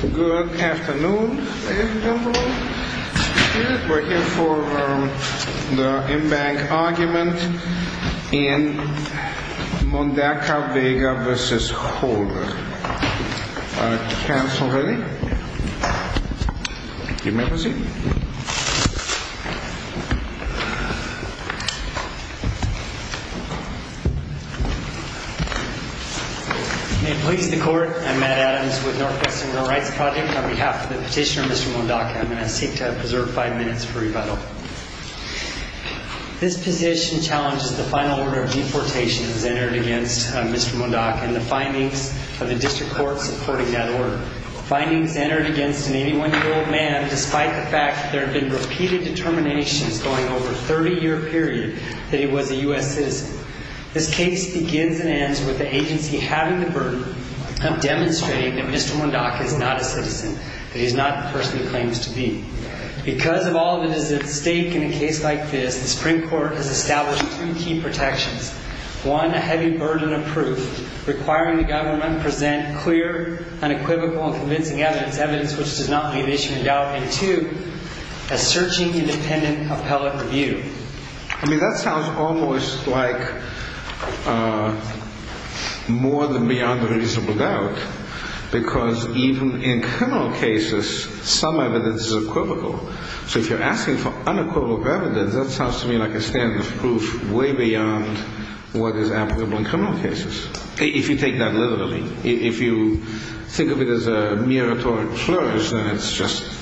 Good afternoon, ladies and gentlemen. We're here for the in-bank argument in Mondaca-Vega v. Holder. Council ready? You may proceed. May it please the Court, I'm Matt Adams with Northwest Civil Rights Project. On behalf of the petitioner, Mr. Mondaca, I'm going to seek to preserve five minutes for rebuttal. This petition challenges the final order of deportation that was entered against Mr. Mondaca and the findings of the District Court supporting that order. Findings entered against an 81-year-old man despite the fact that there have been repeated determinations going over a 30-year period that he was a U.S. citizen. This case begins and ends with the agency having the burden of demonstrating that Mr. Mondaca is not a citizen, that he's not the person he claims to be. Because of all that is at stake in a case like this, the Supreme Court has established two key protections. One, a heavy burden of proof requiring the government to present clear, unequivocal, and convincing evidence, evidence which does not leave issue in doubt. And two, a searching, independent appellate review. I mean, that sounds almost like more than beyond a reasonable doubt, because even in criminal cases, some evidence is equivocal. So if you're asking for unequivocal evidence, that sounds to me like a standard of proof way beyond what is applicable in criminal cases, if you take that literally. If you think of it as a mere rhetorical slur, then it's just...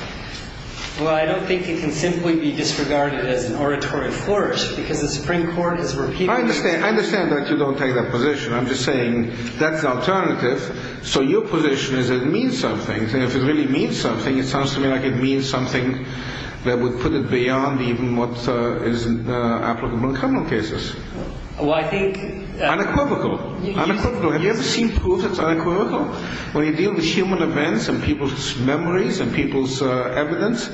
Well, I don't think it can simply be disregarded as an oratory flourish, because the Supreme Court has repeatedly... I understand that you don't take that position. I'm just saying that's the alternative. So your position is it means something, and if it really means something, it sounds to me like it means something that would put it beyond even what is applicable in criminal cases. Well, I think... Unequivocal. Have you ever seen proof that's unequivocal? When you deal with human events and people's memories and people's evidence,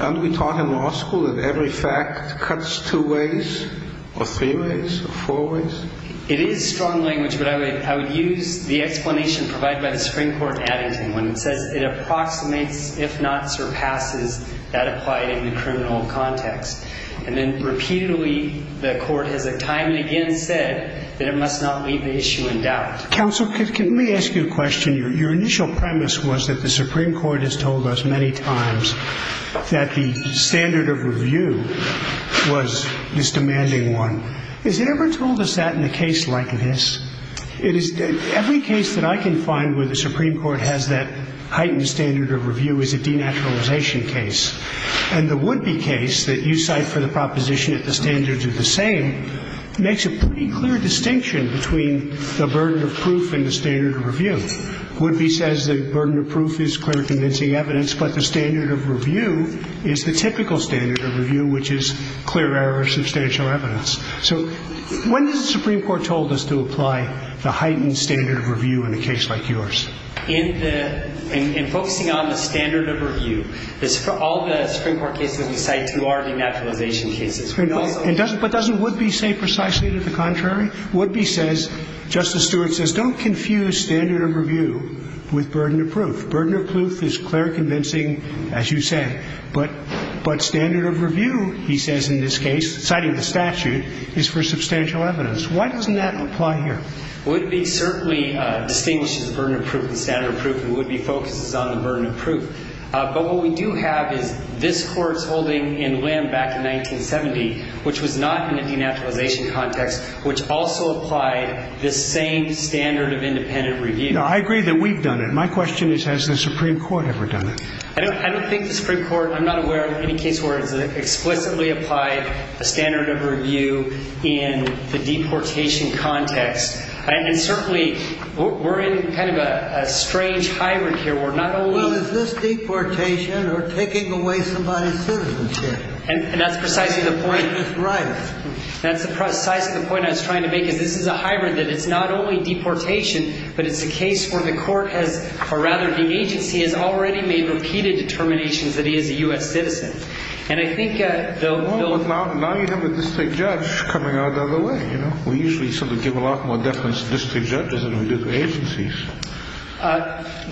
aren't we taught in law school that every fact cuts two ways or three ways or four ways? It is strong language, but I would use the explanation provided by the Supreme Court in Addington when it says it approximates, if not surpasses, that applied in the criminal context. And then repeatedly, the Court has time and again said that it must not leave the issue in doubt. Counsel, can we ask you a question? Your initial premise was that the Supreme Court has told us many times that the standard of review was this demanding one. Has it ever told us that in a case like this? Every case that I can find where the Supreme Court has that heightened standard of review is a denaturalization case. And the Woodby case that you cite for the proposition that the standards are the same makes a pretty clear distinction between the burden of proof and the standard of review. Woodby says the burden of proof is clear convincing evidence, but the standard of review is the typical standard of review, which is clear error of substantial evidence. So when has the Supreme Court told us to apply the heightened standard of review in a case like yours? In focusing on the standard of review, all the Supreme Court cases we cite are denaturalization cases. But doesn't Woodby say precisely to the contrary? Woodby says, Justice Stewart says, don't confuse standard of review with burden of proof. Burden of proof is clear convincing, as you say. But standard of review, he says in this case, citing the statute, is for substantial evidence. Why doesn't that apply here? Woodby certainly distinguishes the burden of proof and standard of proof, and Woodby focuses on the burden of proof. But what we do have is this Court's holding in Lim back in 1970, which was not in a denaturalization context, which also applied this same standard of independent review. No, I agree that we've done it. My question is, has the Supreme Court ever done it? I don't think the Supreme Court, I'm not aware of any case where it's explicitly applied a standard of review in the deportation context. And certainly, we're in kind of a strange hybrid here. We're not only – Well, is this deportation or taking away somebody's citizenship? And that's precisely the point. Right. That's precisely the point I was trying to make, is this is a hybrid, that it's not only deportation, but it's a case where the Court has – or rather, the agency has already made repeated determinations that he is a U.S. citizen. And I think – Well, now you have a district judge coming out the other way, you know. We usually sort of give a lot more deference to district judges than we do to agencies.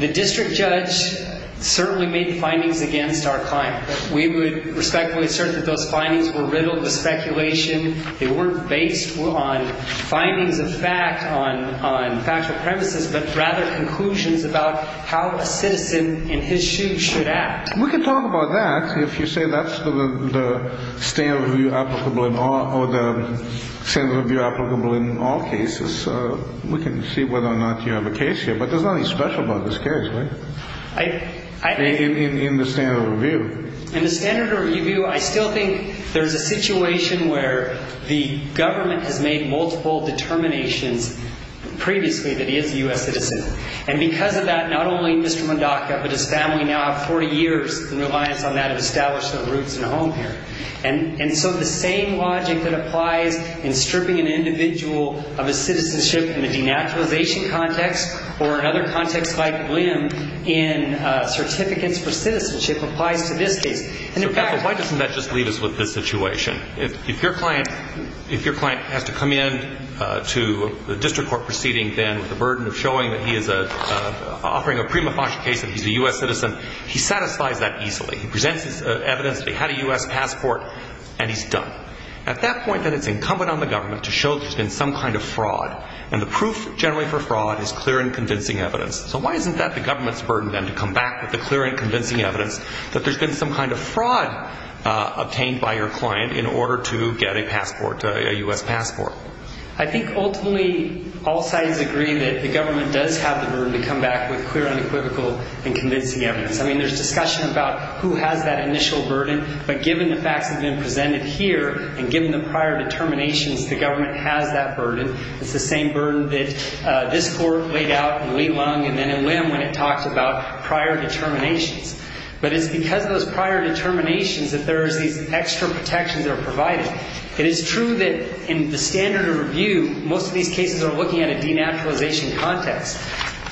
The district judge certainly made findings against our client. We would respectfully assert that those findings were riddled with speculation. They weren't based on findings of fact on factual premises, but rather conclusions about how a citizen in his shoes should act. We can talk about that if you say that's the standard of review applicable in all – or the standard of review applicable in all cases. We can see whether or not you have a case here. But there's nothing special about this case, right? I – In the standard of review. In the standard of review, I still think there's a situation where the government has made multiple determinations previously that he is a U.S. citizen. And because of that, not only Mr. Mondaca, but his family now have 40 years in reliance on that to establish their roots and a home here. And so the same logic that applies in stripping an individual of his citizenship in the denaturalization context or another context like William in certificates for citizenship applies to this case. And in fact – So, counsel, why doesn't that just leave us with this situation? If your client – if your client has to come in to the district court proceeding then with the burden of showing that he is a – offering a prima facie case that he's a U.S. citizen, he satisfies that easily. He presents his evidence that he had a U.S. passport and he's done. At that point then it's incumbent on the government to show that there's been some kind of fraud. And the proof generally for fraud is clear and convincing evidence. So why isn't that the government's burden then to come back with the clear and convincing evidence that there's been some kind of fraud obtained by your client in order to get a passport, a U.S. passport? I think ultimately all sides agree that the government does have the burden to come back with clear and equivocal and convincing evidence. I mean, there's discussion about who has that initial burden. But given the facts that have been presented here and given the prior determinations, the government has that burden. It's the same burden that this court laid out in Leilong and then in Lim when it talked about prior determinations. But it's because of those prior determinations that there is these extra protections that are provided. It is true that in the standard of review, most of these cases are looking at a denaturalization context.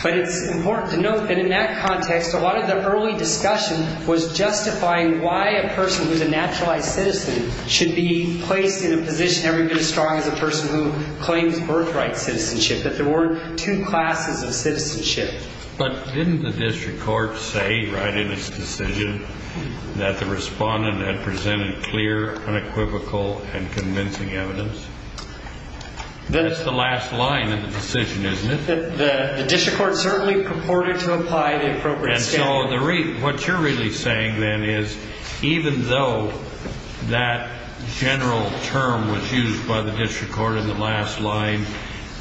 But it's important to note that in that context, a lot of the early discussion was justifying why a person who's a naturalized citizen should be placed in a position every bit as strong as a person who claims birthright citizenship, that there weren't two classes of citizenship. But didn't the district court say right in its decision that the respondent had presented clear, unequivocal, and convincing evidence? That's the last line of the decision, isn't it? The district court certainly purported to apply the appropriate standard. And so what you're really saying then is even though that general term was used by the district court in the last line,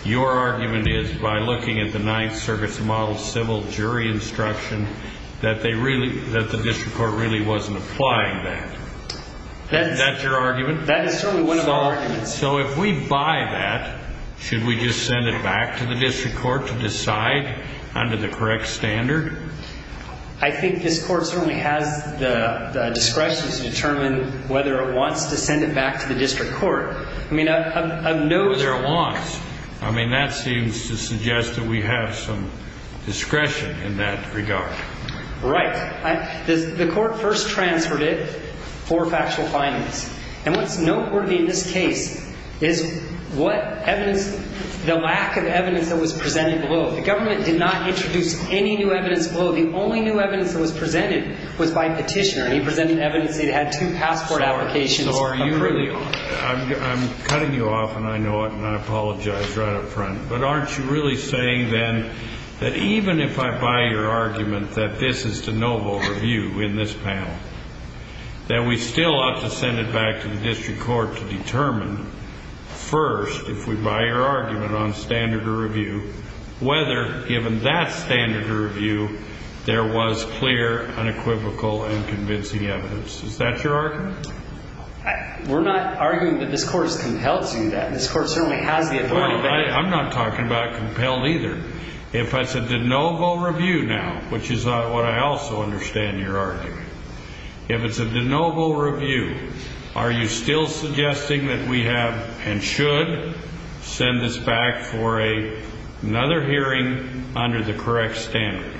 your argument is by looking at the Ninth Circuit's model civil jury instruction that the district court really wasn't applying that. That's your argument? That is certainly one of our arguments. And so if we buy that, should we just send it back to the district court to decide under the correct standard? I think this court certainly has the discretion to determine whether it wants to send it back to the district court. I mean, I'm not sure. Whether it wants. I mean, that seems to suggest that we have some discretion in that regard. Right. The court first transferred it for factual findings. And what's noteworthy in this case is what evidence, the lack of evidence that was presented below. The government did not introduce any new evidence below. The only new evidence that was presented was by petitioner. And he presented evidence that he had two passport applications approved. So are you really, I'm cutting you off and I know it and I apologize right up front. But aren't you really saying then that even if I buy your argument that this is de novo review in this panel, that we still ought to send it back to the district court to determine first, if we buy your argument on standard of review, whether given that standard of review, there was clear, unequivocal and convincing evidence. Is that your argument? We're not arguing that this court's compelled to do that. This court certainly has the authority. I'm not talking about compelled either. If I said de novo review now, which is what I also understand your argument. If it's a de novo review, are you still suggesting that we have and should send this back for another hearing under the correct standard?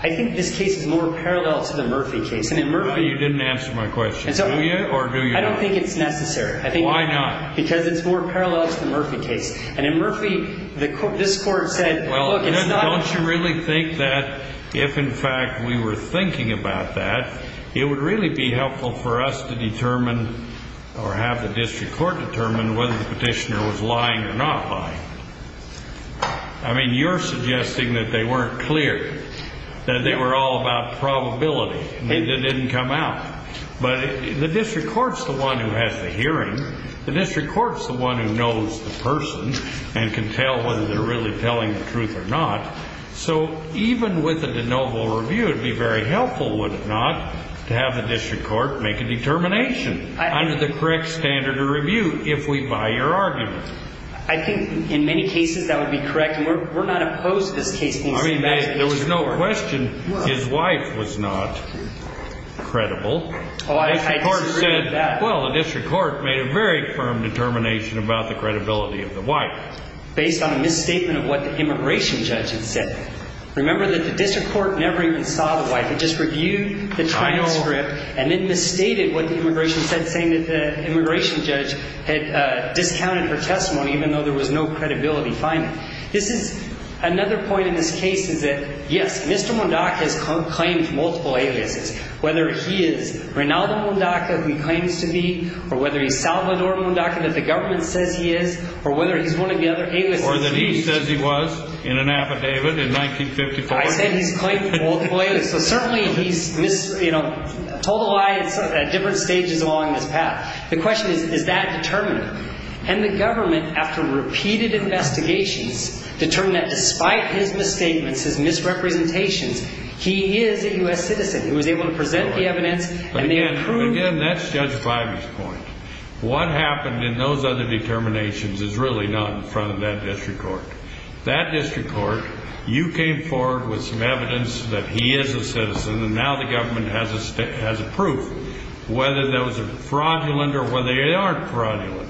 I think this case is more parallel to the Murphy case. You didn't answer my question. Do you or do you not? I don't think it's necessary. Why not? Because it's more parallel to the Murphy case. And in Murphy, this court said, look, it's not. Don't you really think that if, in fact, we were thinking about that, it would really be helpful for us to determine or have the district court determine whether the petitioner was lying or not lying? I mean, you're suggesting that they weren't clear, that they were all about probability. It didn't come out. But the district court's the one who has the hearing. The district court's the one who knows the person and can tell whether they're really telling the truth or not. So even with a de novo review, it would be very helpful, would it not, to have the district court make a determination under the correct standard of review if we buy your argument. I think in many cases that would be correct. And we're not opposed to this case being sent back to the district court. I mean, there was no question his wife was not credible. Oh, I disagree with that. Well, the district court made a very firm determination about the credibility of the wife. Based on a misstatement of what the immigration judge had said. Remember that the district court never even saw the wife. It just reviewed the transcript and then misstated what the immigration said, saying that the immigration judge had discounted her testimony even though there was no credibility finding. This is another point in this case is that, yes, Mr. Mondaca has claimed multiple aliases. Whether he is Reynaldo Mondaca, who he claims to be, or whether he's Salvador Mondaca, that the government says he is, or whether he's one of the other aliases. Or that he says he was in an affidavit in 1954. I said he's claimed multiple aliases. So certainly he's told a lie at different stages along this path. The question is, is that determinant? And the government, after repeated investigations, determined that despite his misstatements, his misrepresentations, he is a U.S. citizen. He was able to present the evidence. And they approved. Again, that's Judge Bimey's point. What happened in those other determinations is really not in front of that district court. That district court, you came forward with some evidence that he is a citizen. And now the government has a proof whether those are fraudulent or whether they aren't fraudulent.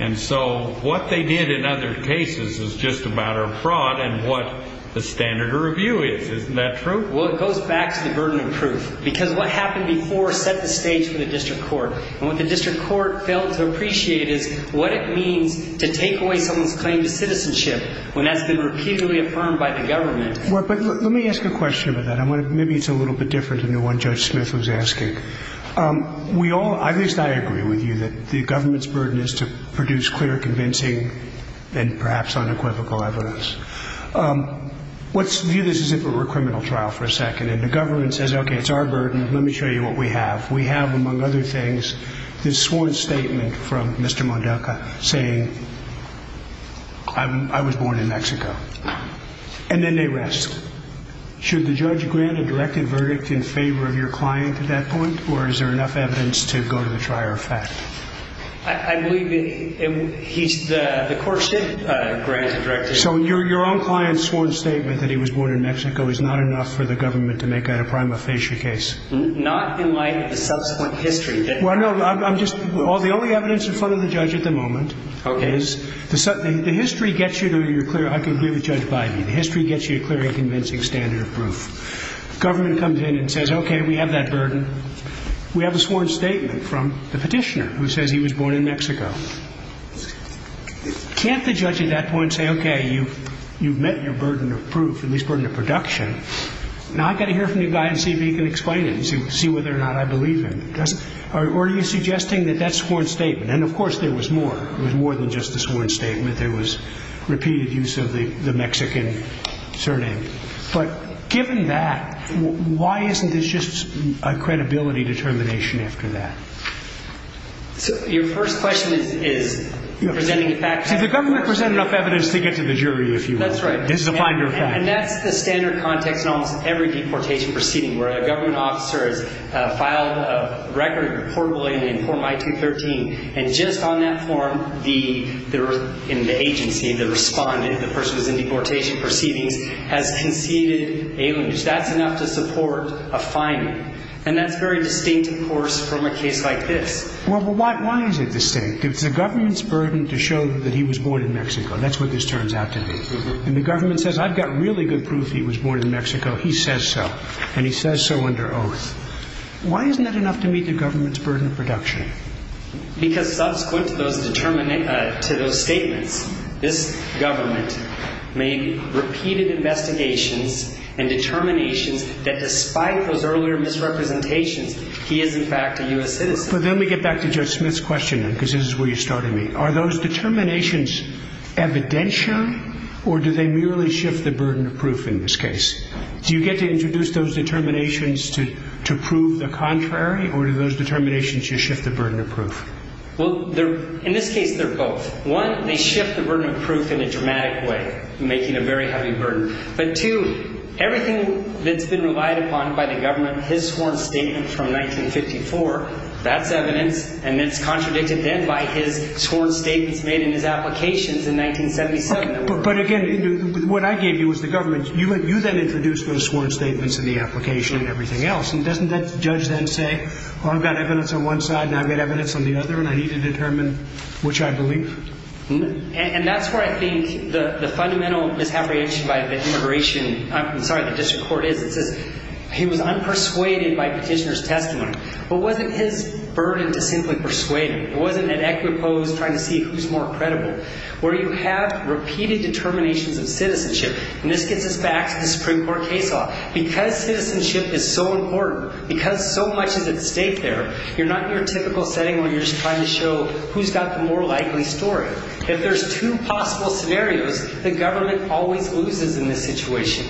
And so what they did in other cases is just a matter of fraud and what the standard of review is. Isn't that true? Well, it goes back to the burden of proof. Because what happened before set the stage for the district court. And what the district court failed to appreciate is what it means to take away someone's claim to citizenship when that's been repeatedly affirmed by the government. Let me ask a question about that. Maybe it's a little bit different than the one Judge Smith was asking. We all, at least I agree with you, that the government's burden is to produce clear, convincing and perhaps unequivocal evidence. Let's view this as if it were a criminal trial for a second. And the government says, okay, it's our burden. Let me show you what we have. We have, among other things, this sworn statement from Mr. Mondalka saying, I was born in Mexico. And then they rest. Should the judge grant a directive verdict in favor of your client at that point? Or is there enough evidence to go to the trier of fact? I believe the court should grant a directive. So your own client's sworn statement that he was born in Mexico is not enough for the government to make out a prima facie case? Not in light of the subsequent history. Well, no, I'm just – the only evidence in front of the judge at the moment is – Okay. The history gets you to a clear – I can give a judge by me. The history gets you a clear and convincing standard of proof. The government comes in and says, okay, we have that burden. We have a sworn statement from the petitioner who says he was born in Mexico. Can't the judge at that point say, okay, you've met your burden of proof, at least burden of production. Now I've got to hear from the guy and see if he can explain it and see whether or not I believe him. Or are you suggesting that that sworn statement – and of course there was more. There was more than just a sworn statement. There was repeated use of the Mexican surname. But given that, why isn't this just a credibility determination after that? So your first question is presenting the fact. See, the government presented enough evidence to get to the jury, if you will. That's right. This is a finder of fact. And that's the standard context in almost every deportation proceeding, where a government officer has filed a record reportable in the form I-213. And just on that form, the agency, the respondent, the person who's in deportation proceedings, has conceded alienage. That's enough to support a finding. And that's very distinct, of course, from a case like this. Well, but why is it distinct? It's the government's burden to show that he was born in Mexico. That's what this turns out to be. And the government says, I've got really good proof he was born in Mexico. He says so. And he says so under oath. Why isn't that enough to meet the government's burden of production? Because subsequent to those statements, this government made repeated investigations and determinations that despite those earlier misrepresentations, he is, in fact, a U.S. citizen. But then we get back to Judge Smith's question, because this is where you started me. Are those determinations evidential, or do they merely shift the burden of proof in this case? Do you get to introduce those determinations to prove the contrary, or do those determinations just shift the burden of proof? Well, in this case, they're both. One, they shift the burden of proof in a dramatic way, making a very heavy burden. But, two, everything that's been relied upon by the government, his sworn statement from 1954, that's evidence, and it's contradicted then by his sworn statements made in his applications in 1977. But, again, what I gave you was the government. You then introduced those sworn statements in the application and everything else. And doesn't that judge then say, well, I've got evidence on one side, and I've got evidence on the other, and I need to determine which I believe? And that's where I think the fundamental misapprehension by the immigration – I'm sorry, the district court is. It says he was unpersuaded by petitioner's testimony. But wasn't his burden to simply persuade him? It wasn't an equiposed trying to see who's more credible. Where you have repeated determinations of citizenship, and this gets us back to the Supreme Court case law. Because citizenship is so important, because so much is at stake there, you're not in your typical setting where you're just trying to show who's got the more likely story. If there's two possible scenarios, the government always loses in this situation.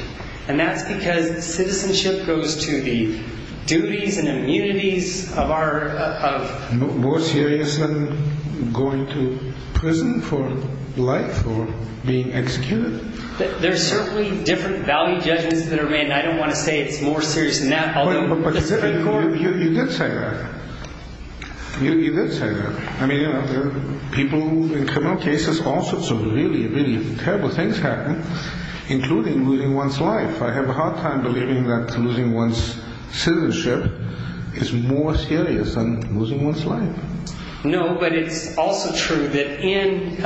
And that's because citizenship goes to the duties and immunities of our – more serious than going to prison for life or being executed. There are certainly different value judgments that are made, and I don't want to say it's more serious than that. But you did say that. You did say that. I mean, people in criminal cases, all sorts of really, really terrible things happen, including losing one's life. I have a hard time believing that losing one's citizenship is more serious than losing one's life. No, but it's also true that in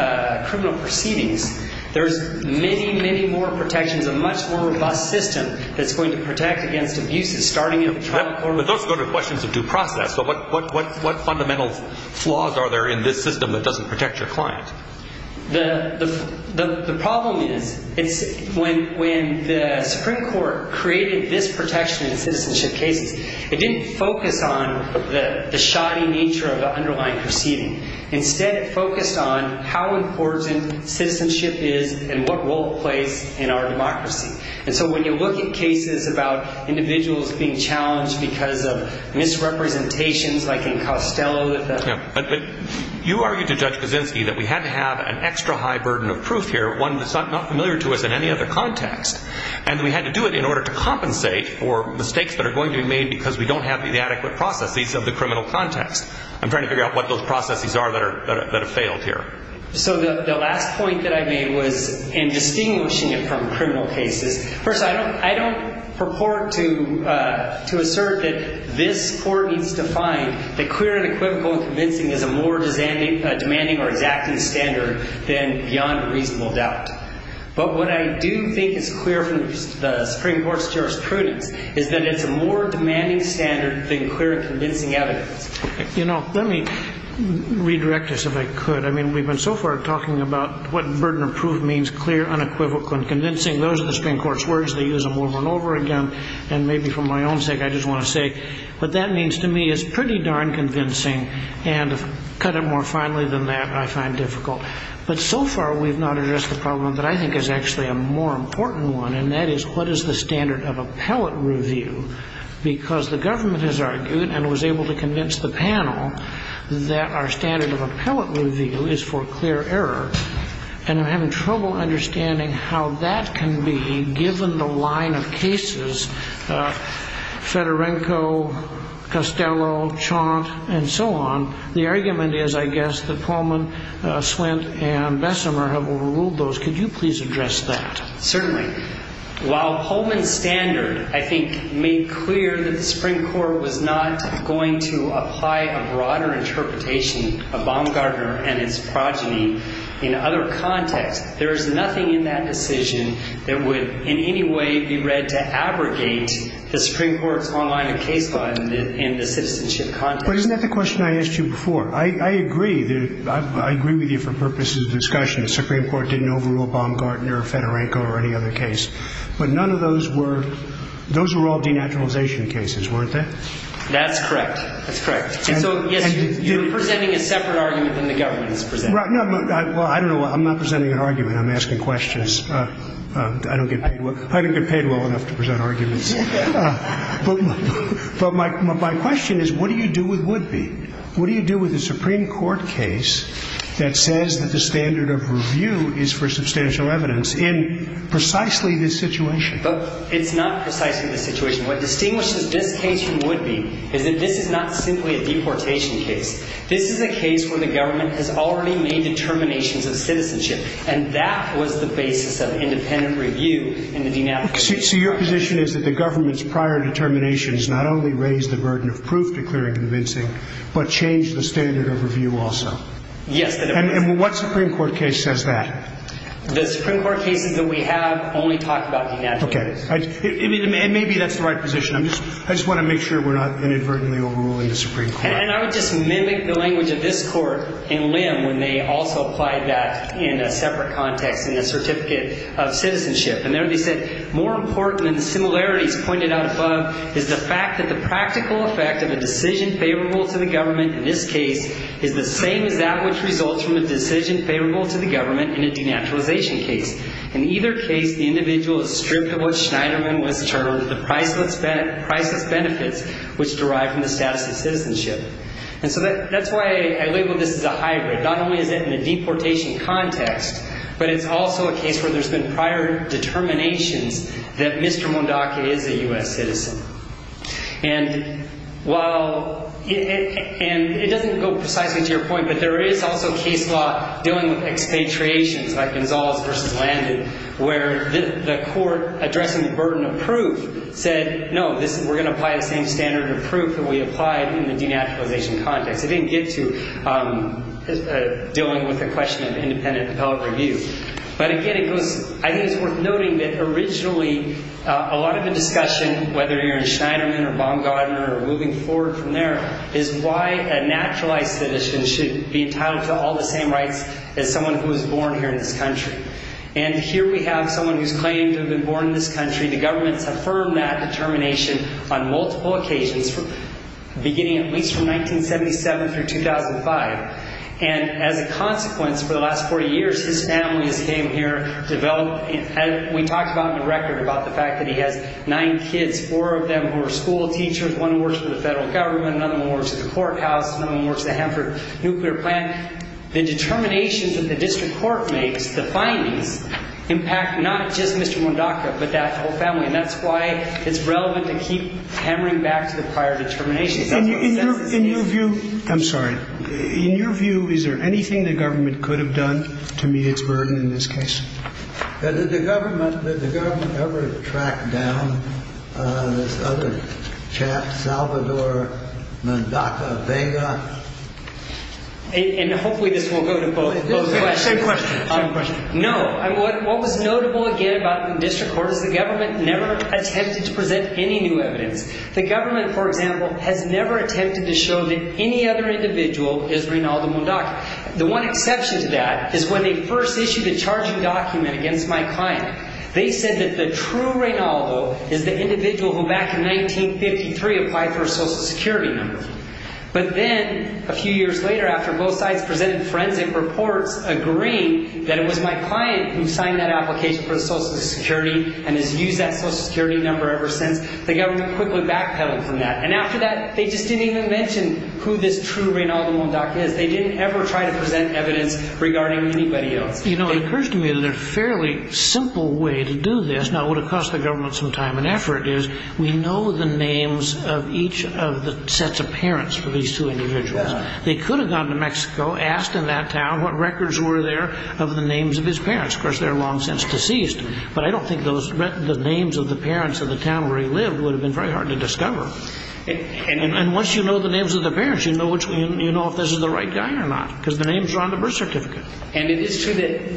criminal proceedings, there's many, many more protections, a much more robust system that's going to protect against abuses starting at the trial court. But those go to questions of due process. So what fundamental flaws are there in this system that doesn't protect your client? The problem is it's – when the Supreme Court created this protection in citizenship cases, it didn't focus on the shoddy nature of the underlying proceeding. Instead, it focused on how important citizenship is and what role it plays in our democracy. And so when you look at cases about individuals being challenged because of misrepresentations like in Costello – But you argued to Judge Kuczynski that we had to have an extra high burden of proof here, one that's not familiar to us in any other context, and we had to do it in order to compensate for mistakes that are going to be made because we don't have the adequate processes of the criminal context. I'm trying to figure out what those processes are that have failed here. So the last point that I made was in distinguishing it from criminal cases. First, I don't purport to assert that this court needs to find that clear, unequivocal, and convincing is a more demanding or exacting standard than beyond reasonable doubt. But what I do think is clear from the Supreme Court's jurisprudence is that it's a more demanding standard than clear and convincing evidence. You know, let me redirect this if I could. I mean, we've been so far talking about what burden of proof means, clear, unequivocal, and convincing. Those are the Supreme Court's words. They use them over and over again, and maybe for my own sake I just want to say what that means to me is pretty darn convincing, and to cut it more finely than that I find difficult. But so far we've not addressed the problem that I think is actually a more important one, and that is what is the standard of appellate review? Because the government has argued and was able to convince the panel that our standard of appellate review is for clear error, and I'm having trouble understanding how that can be given the line of cases, Fedorenko, Costello, Chaunt, and so on. The argument is, I guess, that Pullman, Swint, and Bessemer have overruled those. Could you please address that? Certainly. While Pullman's standard, I think, made clear that the Supreme Court was not going to apply a broader interpretation of Baumgartner and his progeny in other contexts, there is nothing in that decision that would in any way be read to abrogate the Supreme Court's online case law in the citizenship context. But isn't that the question I asked you before? I agree with you for purposes of discussion. The Supreme Court didn't overrule Baumgartner or Fedorenko or any other case, but none of those were all denaturalization cases, weren't they? That's correct. That's correct. And so, yes, you're presenting a separate argument than the government is presenting. Well, I don't know. I'm not presenting an argument. I'm asking questions. I don't get paid well. I don't get paid well enough to present arguments. But my question is, what do you do with Woodby? What do you do with a Supreme Court case that says that the standard of review is for substantial evidence in precisely this situation? It's not precisely this situation. What distinguishes this case from Woodby is that this is not simply a deportation case. This is a case where the government has already made determinations of citizenship, and that was the basis of independent review in the denaturalization case. So your position is that the government's prior determinations not only raised the burden of proof, declaring convincing, but changed the standard of review also? Yes. And what Supreme Court case says that? The Supreme Court cases that we have only talk about denaturalization. Okay. And maybe that's the right position. I just want to make sure we're not inadvertently overruling the Supreme Court. And I would just mimic the language of this Court in Lim when they also applied that in a separate context in the certificate of citizenship. And there they said, more important than the similarities pointed out above is the fact that the practical effect of a decision favorable to the government in this case is the same as that which results from a decision favorable to the government in a denaturalization case. In either case, the individual is stripped of what Schneiderman was termed the priceless benefits which derive from the status of citizenship. And so that's why I label this as a hybrid. Not only is it in a deportation context, but it's also a case where there's been prior determinations that Mr. Mondaca is a U.S. citizen. And while it doesn't go precisely to your point, but there is also case law dealing with expatriations like Gonzales v. Landon where the court addressing the burden of proof said, no, we're going to apply the same standard of proof that we applied in the denaturalization context. It didn't get to dealing with the question of independent appellate review. But again, I think it's worth noting that originally a lot of the discussion, whether you're in Schneiderman or Baumgardner or moving forward from there, is why a naturalized citizen should be entitled to all the same rights as someone who was born here in this country. And here we have someone who's claimed to have been born in this country. The government's affirmed that determination on multiple occasions, beginning at least from 1977 through 2005. And as a consequence, for the last 40 years, his family has came here, developed and we talked about in the record about the fact that he has nine kids, four of them who are school teachers, one who works for the federal government, another one works at the courthouse, another one works at the Hanford nuclear plant. The determinations that the district court makes, the findings, impact not just Mr. Mondacco but that whole family. And that's why it's relevant to keep hammering back to the prior determinations. In your view – I'm sorry. In your view, is there anything the government could have done to meet its burden in this case? Did the government ever track down this other chap, Salvador Mondacco Vega? And hopefully this won't go to both questions. Same question. No. What was notable again about the district court is the government never attempted to present any new evidence. The government, for example, has never attempted to show that any other individual is Reynaldo Mondacco. The one exception to that is when they first issued a charging document against my client. They said that the true Reynaldo is the individual who back in 1953 applied for a social security number. But then, a few years later, after both sides presented forensic reports agreeing that it was my client who signed that application for social security and has used that social security number ever since, the government quickly backpedaled from that. And after that, they just didn't even mention who this true Reynaldo Mondacco is. They didn't ever try to present evidence regarding anybody else. You know, it occurs to me that a fairly simple way to do this, now it would have cost the government some time and effort, is we know the names of each of the sets of parents for these two individuals. They could have gone to Mexico, asked in that town what records were there of the names of his parents. Of course, they're long since deceased. But I don't think the names of the parents of the town where he lived would have been very hard to discover. And once you know the names of the parents, you know if this is the right guy or not, because the names are on the birth certificate. And it is true that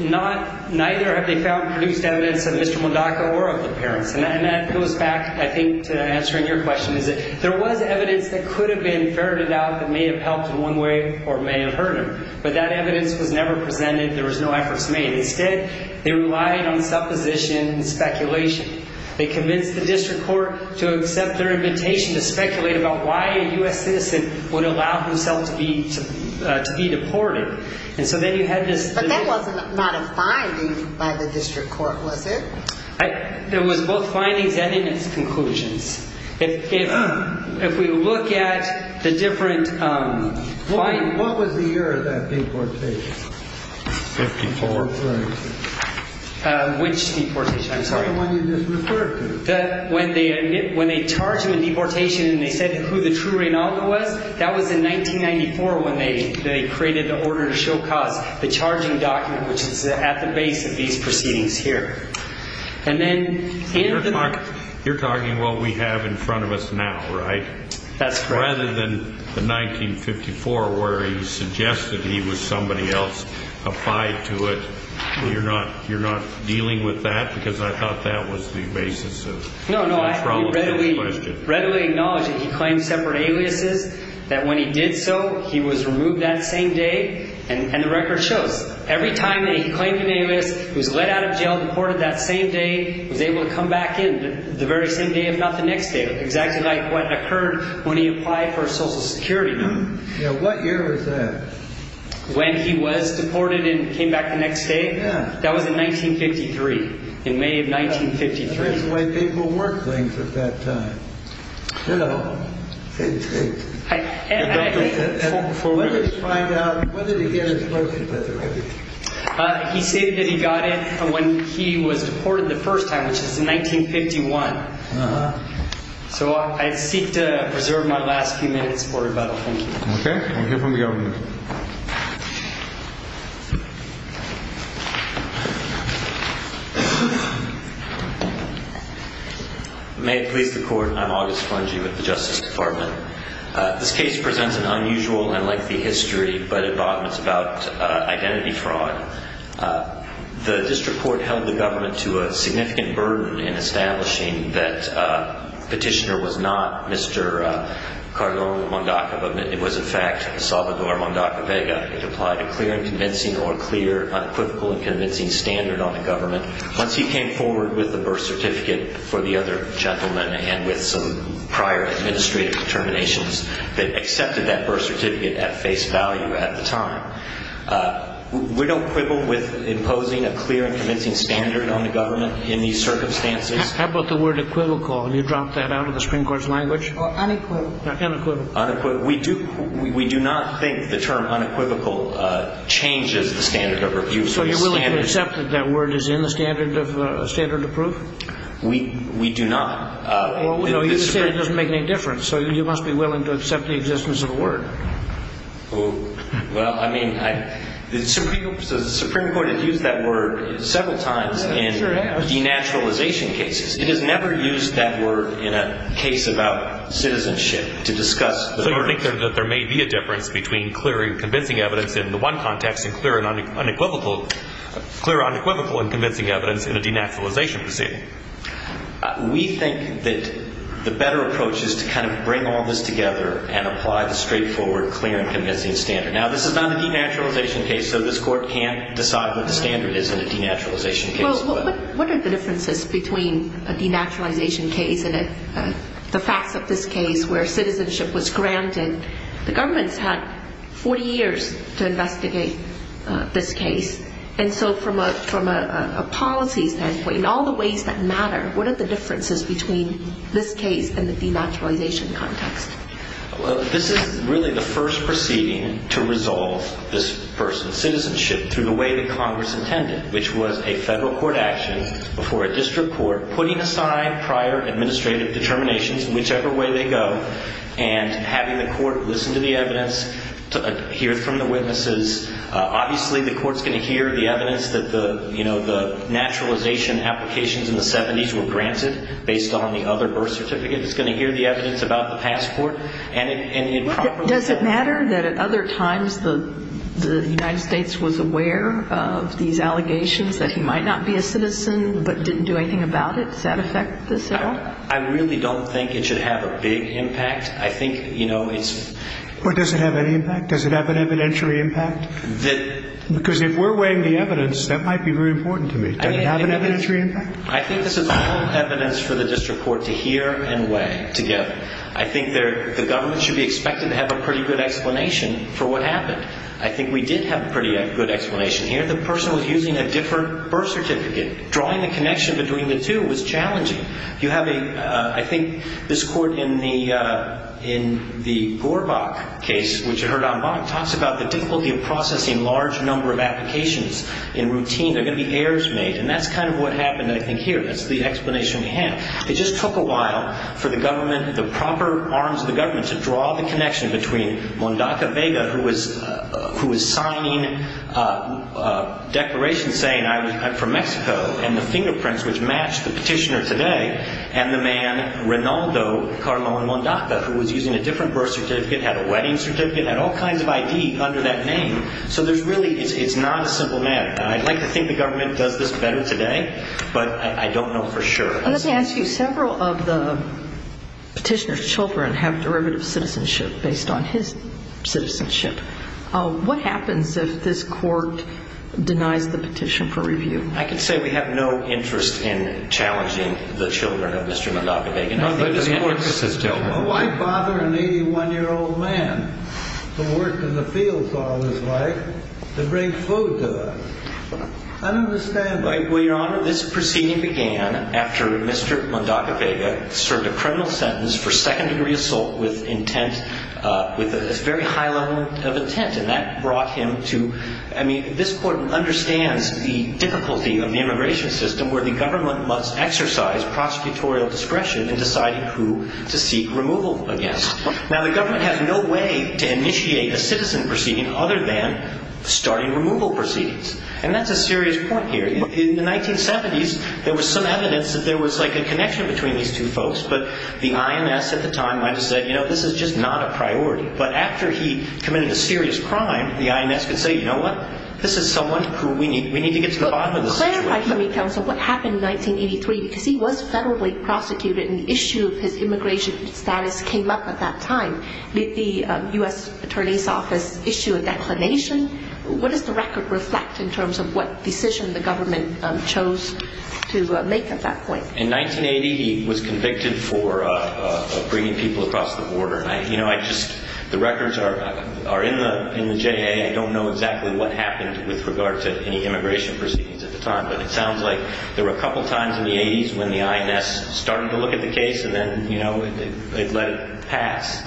neither have they found or produced evidence of Mr. Mondacco or of the parents. And that goes back, I think, to answering your question. There was evidence that could have been ferreted out that may have helped in one way or may have hurt him. But that evidence was never presented. There was no efforts made. Instead, they relied on supposition and speculation. They convinced the district court to accept their invitation to speculate about why a U.S. citizen would allow himself to be deported. And so then you had this- But that was not a finding by the district court, was it? It was both findings and in its conclusions. If we look at the different findings- What was the year of that deportation? 1954. Right. Which deportation? I'm sorry. The one you just referred to. When they charged him with deportation and they said who the true Reynaldo was, that was in 1994 when they created the order to show costs, the charging document which is at the base of these proceedings here. And then- You're talking about what we have in front of us now, right? That's correct. Rather than the 1954 where he suggested he was somebody else, you're not dealing with that because I thought that was the basis of- No, no. I readily acknowledge that he claimed separate aliases, that when he did so, he was removed that same day. And the record shows every time that he claimed an alias, was let out of jail, deported that same day, was able to come back in the very same day if not the next day, exactly like what occurred when he applied for a Social Security number. Yeah. What year was that? When he was deported and came back the next day? Yeah. That was in 1953, in May of 1953. That's the way people work things at that time. Hello. Hey, hey. Hi. For what? Let's find out, when did he get his first- He said that he got it when he was deported the first time, which is in 1951. Uh-huh. So I seek to preserve my last few minutes for rebuttal, thank you. Okay. We'll hear from the owner. May it please the Court, I'm August Fungi with the Justice Department. This case presents an unusual and lengthy history, but it boggles about identity fraud. The district court held the government to a significant burden in establishing that the petitioner was not Mr. Cardone Mondacco, but it was, in fact, Salvador Mondacco Vega. It applied a clear and convincing or clear, unequivocal and convincing standard on the government. Once he came forward with a birth certificate for the other gentleman and with some prior administrative determinations that accepted that birth certificate at face value at the time, we don't quibble with imposing a clear and convincing standard on the government in these circumstances. How about the word equivocal? You dropped that out of the Supreme Court's language. Unequivocal. Unequivocal. We do not think the term unequivocal changes the standard of review. So you're willing to accept that that word is in the standard of proof? We do not. Well, you say it doesn't make any difference, so you must be willing to accept the existence of the word. Well, I mean, the Supreme Court has used that word several times in denaturalization cases. It has never used that word in a case about citizenship to discuss the birth. So you think that there may be a difference between clear and convincing evidence in the one context and clear and unequivocal in convincing evidence in a denaturalization proceeding? We think that the better approach is to kind of bring all this together and apply the straightforward clear and convincing standard. Now, this is not a denaturalization case, so this Court can't decide what the standard is in a denaturalization case. Well, what are the differences between a denaturalization case and the facts of this case where citizenship was granted? The government's had 40 years to investigate this case. And so from a policy standpoint, in all the ways that matter, what are the differences between this case and the denaturalization context? Well, this is really the first proceeding to resolve this person's citizenship through the way that Congress intended, which was a federal court action before a district court putting aside prior administrative determinations, whichever way they go, and having the court listen to the evidence, hear from the witnesses. Obviously, the court's going to hear the evidence that the naturalization applications in the 70s were granted based on the other birth certificate. It's going to hear the evidence about the passport. Does it matter that at other times the United States was aware of these allegations that he might not be a citizen but didn't do anything about it? Does that affect this at all? I really don't think it should have a big impact. I think, you know, it's... Well, does it have any impact? Does it have an evidentiary impact? Because if we're weighing the evidence, that might be very important to me. Does it have an evidentiary impact? I think this is all evidence for the district court to hear and weigh together. I think the government should be expected to have a pretty good explanation for what happened. I think we did have a pretty good explanation here. The person was using a different birth certificate. Drawing the connection between the two was challenging. You have a... I think this court in the Gorbach case, which you heard on Bonn, talks about the difficulty of processing large number of applications in routine. There are going to be errors made. And that's kind of what happened, I think, here. That's the explanation we have. It just took a while for the government, the proper arms of the government, to draw the connection between Mondaca Vega, who was signing a declaration saying, I'm from Mexico, and the fingerprints, which match the petitioner today, and the man, Rinaldo Carmon Mondaca, who was using a different birth certificate, had a wedding certificate, had all kinds of ID under that name. So there's really... It's not a simple matter. I'd like to think the government does this better today, but I don't know for sure. Let me ask you, several of the petitioner's children have derivative citizenship based on his citizenship. What happens if this court denies the petition for review? I can say we have no interest in challenging the children of Mr. Mondaca Vega. No, but this court... Why bother an 81-year-old man who worked in the fields all his life to bring food to them? I don't understand that. Well, Your Honor, this proceeding began after Mr. Mondaca Vega served a criminal sentence for second-degree assault with intent, with a very high level of intent, and that brought him to... I mean, this court understands the difficulty of the immigration system where the government must exercise prosecutorial discretion in deciding who to seek removal against. Now, the government has no way to initiate a citizen proceeding other than starting removal proceedings, and that's a serious point here. In the 1970s, there was some evidence that there was a connection between these two folks, but the IMS at the time might have said, you know, this is just not a priority. But after he committed a serious crime, the IMS could say, you know what, this is someone who we need to get to the bottom of the situation. Clarify for me, counsel, what happened in 1983, because he was federally prosecuted and the issue of his immigration status came up at that time. Did the U.S. Attorney's Office issue a declination? What does the record reflect in terms of what decision the government chose to make at that point? In 1980, he was convicted for bringing people across the border. You know, the records are in the J.A. I don't know exactly what happened with regard to any immigration proceedings at the time, but it sounds like there were a couple times in the 80s when the IMS started to look at the case and then, you know, it let it pass.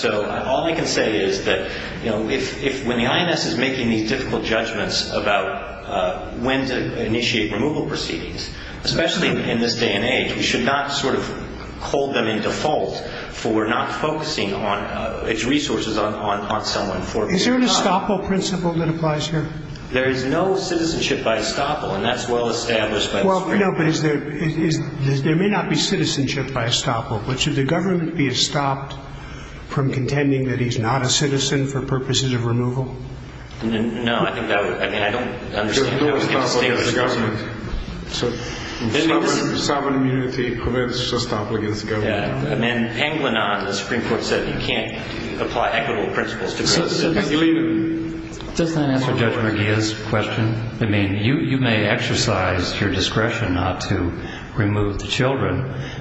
So all I can say is that, you know, when the IMS is making these difficult judgments about when to initiate removal proceedings, especially in this day and age, we should not sort of hold them in default for not focusing its resources on someone for a period of time. Is there an estoppel principle that applies here? There is no citizenship by estoppel, and that's well established by the Supreme Court. Well, no, but there may not be citizenship by estoppel, but should the government be estopped from contending that he's not a citizen for purposes of removal? No, I think that would—I mean, I don't understand how we can distinguish— Estoppel against the government. Sovereign immunity prevents estoppel against the government. Yeah, and then Panglennan, the Supreme Court said you can't apply equitable principles to— So does that answer Judge Merguia's question?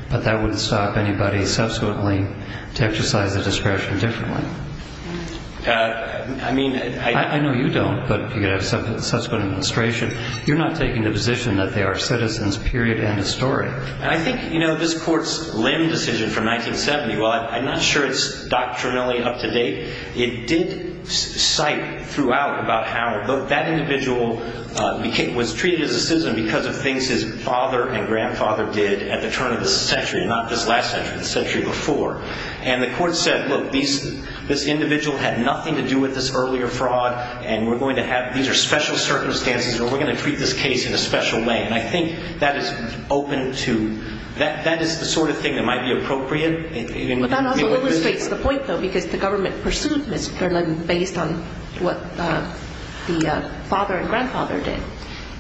But that wouldn't stop anybody subsequently to exercise the discretion differently. I mean— I know you don't, but you could have subsequent administration. You're not taking the position that they are citizens, period, end of story. I think, you know, this Court's Lim decision from 1970, while I'm not sure it's doctrinally up to date, it did cite throughout about how that individual was treated as a citizen because of things his father and grandfather did at the turn of the century, and not just last century, the century before. And the Court said, look, this individual had nothing to do with this earlier fraud, and we're going to have—these are special circumstances, and we're going to treat this case in a special way. And I think that is open to—that is the sort of thing that might be appropriate. But that also illustrates the point, though, because the government pursued Ms. Perlin based on what the father and grandfather did.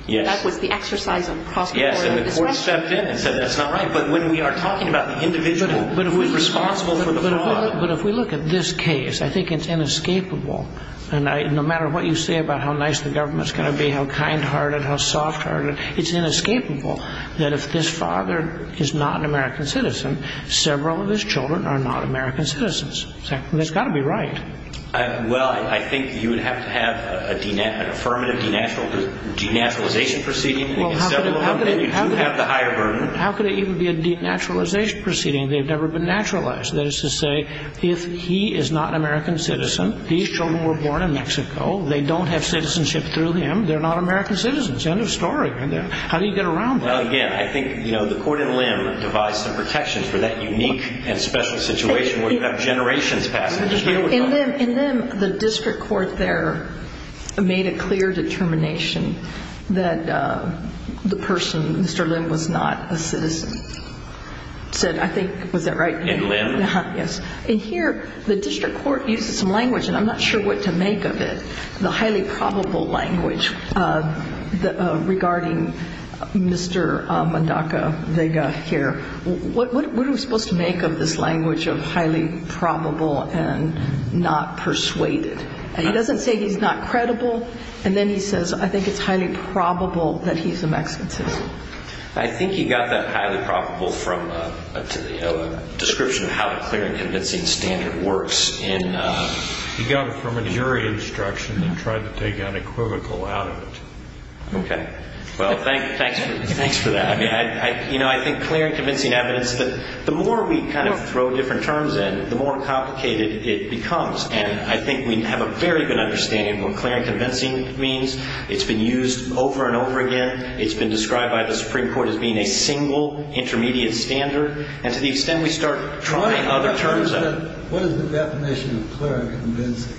That was the exercise of the prosecutorial discretion. Yes, and the Court stepped in and said that's not right. But when we are talking about the individual who is responsible for the fraud— But if we look at this case, I think it's inescapable. And no matter what you say about how nice the government's going to be, how kind-hearted, how soft-hearted, it's inescapable that if this father is not an American citizen, several of his children are not American citizens. It's got to be right. Well, I think you would have to have an affirmative denaturalization proceeding against several of them. Then you do have the higher burden. How could it even be a denaturalization proceeding? They've never been naturalized. That is to say, if he is not an American citizen, these children were born in Mexico, they don't have citizenship through him, they're not American citizens. End of story. How do you get around that? Well, again, I think, you know, the court in Limb devised some protections for that unique and special situation where you have generations passing. In Limb, the district court there made a clear determination that the person, Mr. Limb, was not a citizen. Was that right? In Limb. Yes. In here, the district court used some language, and I'm not sure what to make of it, the highly probable language regarding Mr. Mondaca Vega here. What are we supposed to make of this language of highly probable and not persuaded? And he doesn't say he's not credible, and then he says, I think it's highly probable that he's a Mexican citizen. I think he got that highly probable from a description of how the clear and convincing standard works. He got it from a jury instruction and tried to take an equivocal out of it. Okay. Well, thanks for that. You know, I think clear and convincing evidence that the more we kind of throw different terms in, the more complicated it becomes, and I think we have a very good understanding of what clear and convincing means. It's been used over and over again. It's been described by the Supreme Court as being a single intermediate standard, and to the extent we start trying other terms of it. What is the definition of clear and convincing?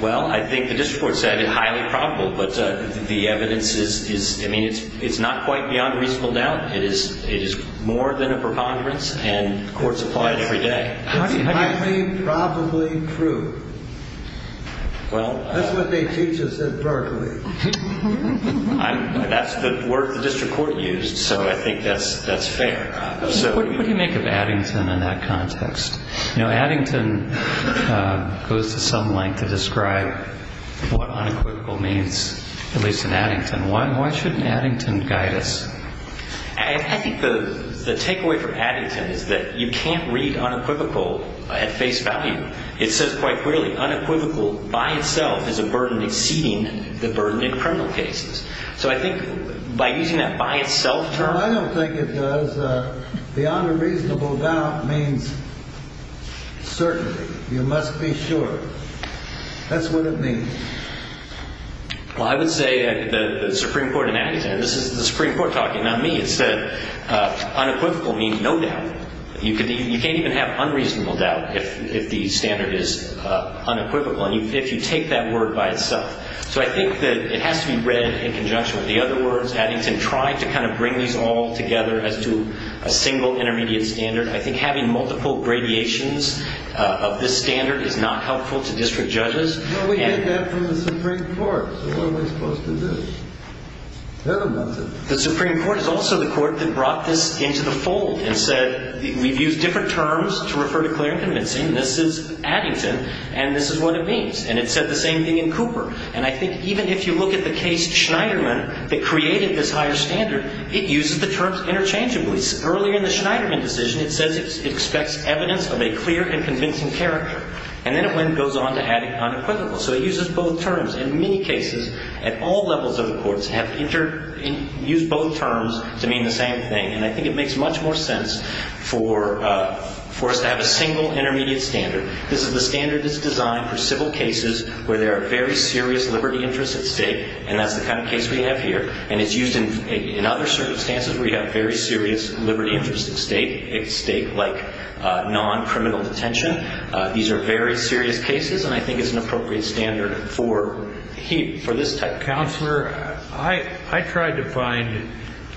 Well, I think the district court said highly probable, but the evidence is, I mean, it's not quite beyond reasonable doubt. It is more than a preponderance, and courts apply it every day. It's highly probably true. That's what they teach us at Berkeley. That's the word the district court used, so I think that's fair. What do you make of Addington in that context? You know, Addington goes to some length to describe what unequivocal means, at least in Addington. Why shouldn't Addington guide us? I think the takeaway from Addington is that you can't read unequivocal at face value. It says quite clearly unequivocal by itself is a burden exceeding the burden in criminal cases. So I think by using that by itself term. Well, I don't think it does. Beyond a reasonable doubt means certainty. You must be sure. That's what it means. Well, I would say the Supreme Court in Addington, and this is the Supreme Court talking, not me, it said unequivocal means no doubt. You can't even have unreasonable doubt if the standard is unequivocal and if you take that word by itself. So I think that it has to be read in conjunction with the other words. Addington tried to kind of bring these all together as to a single intermediate standard. I think having multiple gradations of this standard is not helpful to district judges. Well, we heard that from the Supreme Court. So what are we supposed to do? The Supreme Court is also the court that brought this into the fold and said we've used different terms to refer to clear and convincing. This is Addington and this is what it means. And it said the same thing in Cooper. And I think even if you look at the case Schneiderman that created this higher standard, it uses the terms interchangeably. Earlier in the Schneiderman decision it says it expects evidence of a clear and convincing character. And then it goes on to add unequivocal. So it uses both terms. In many cases at all levels of the courts have used both terms to mean the same thing. And I think it makes much more sense for us to have a single intermediate standard. This is the standard that's designed for civil cases where there are very serious liberty interests at stake. And that's the kind of case we have here. And it's used in other circumstances where you have very serious liberty interests at stake, a state like non-criminal detention. These are very serious cases. And I think it's an appropriate standard for this type. Counselor, I tried to find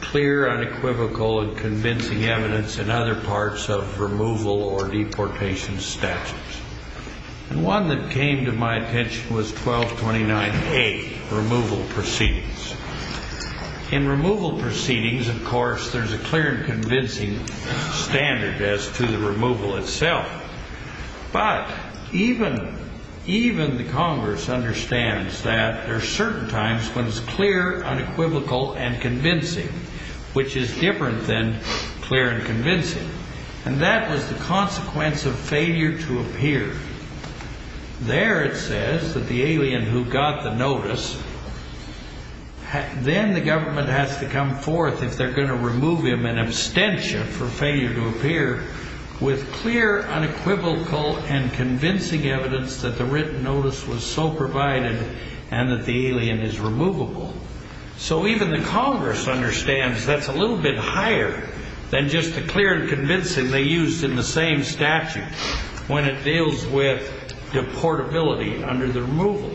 clear, unequivocal and convincing evidence in other parts of removal or deportation statutes. And one that came to my attention was 1229A, removal proceedings. In removal proceedings, of course, there's a clear and convincing standard as to the removal itself. But even the Congress understands that there are certain times when it's clear, unequivocal and convincing, which is different than clear and convincing. And that was the consequence of failure to appear. There it says that the alien who got the notice, then the government has to come forth if they're going to remove him in abstention for failure to appear, with clear, unequivocal and convincing evidence that the written notice was so provided and that the alien is removable. So even the Congress understands that's a little bit higher than just the clear and convincing they used in the same statute. When it deals with deportability under the removal.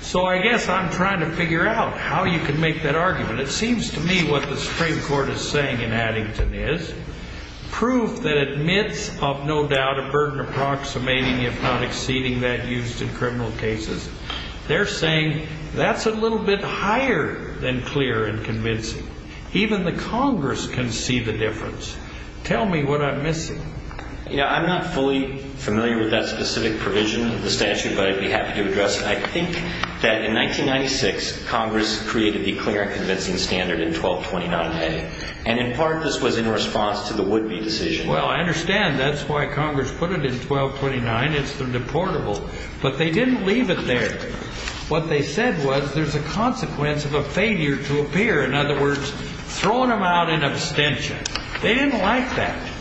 So I guess I'm trying to figure out how you can make that argument. It seems to me what the Supreme Court is saying in Addington is proof that admits of no doubt a burden approximating if not exceeding that used in criminal cases. They're saying that's a little bit higher than clear and convincing. Even the Congress can see the difference. Tell me what I'm missing. You know, I'm not fully familiar with that specific provision of the statute, but I'd be happy to address it. I think that in 1996, Congress created the clear and convincing standard in 1229. And in part, this was in response to the would be decision. Well, I understand. That's why Congress put it in 1229. It's the deportable, but they didn't leave it there. What they said was there's a consequence of a failure to appear. In other words, throwing him out in abstention. They didn't like that.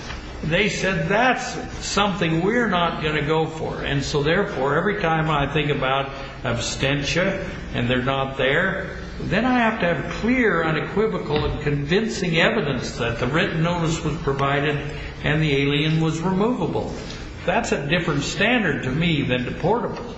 They said that's something we're not going to go for. And so, therefore, every time I think about abstention and they're not there, then I have to have clear, unequivocal and convincing evidence that the written notice was provided and the alien was removable. That's a different standard to me than deportable.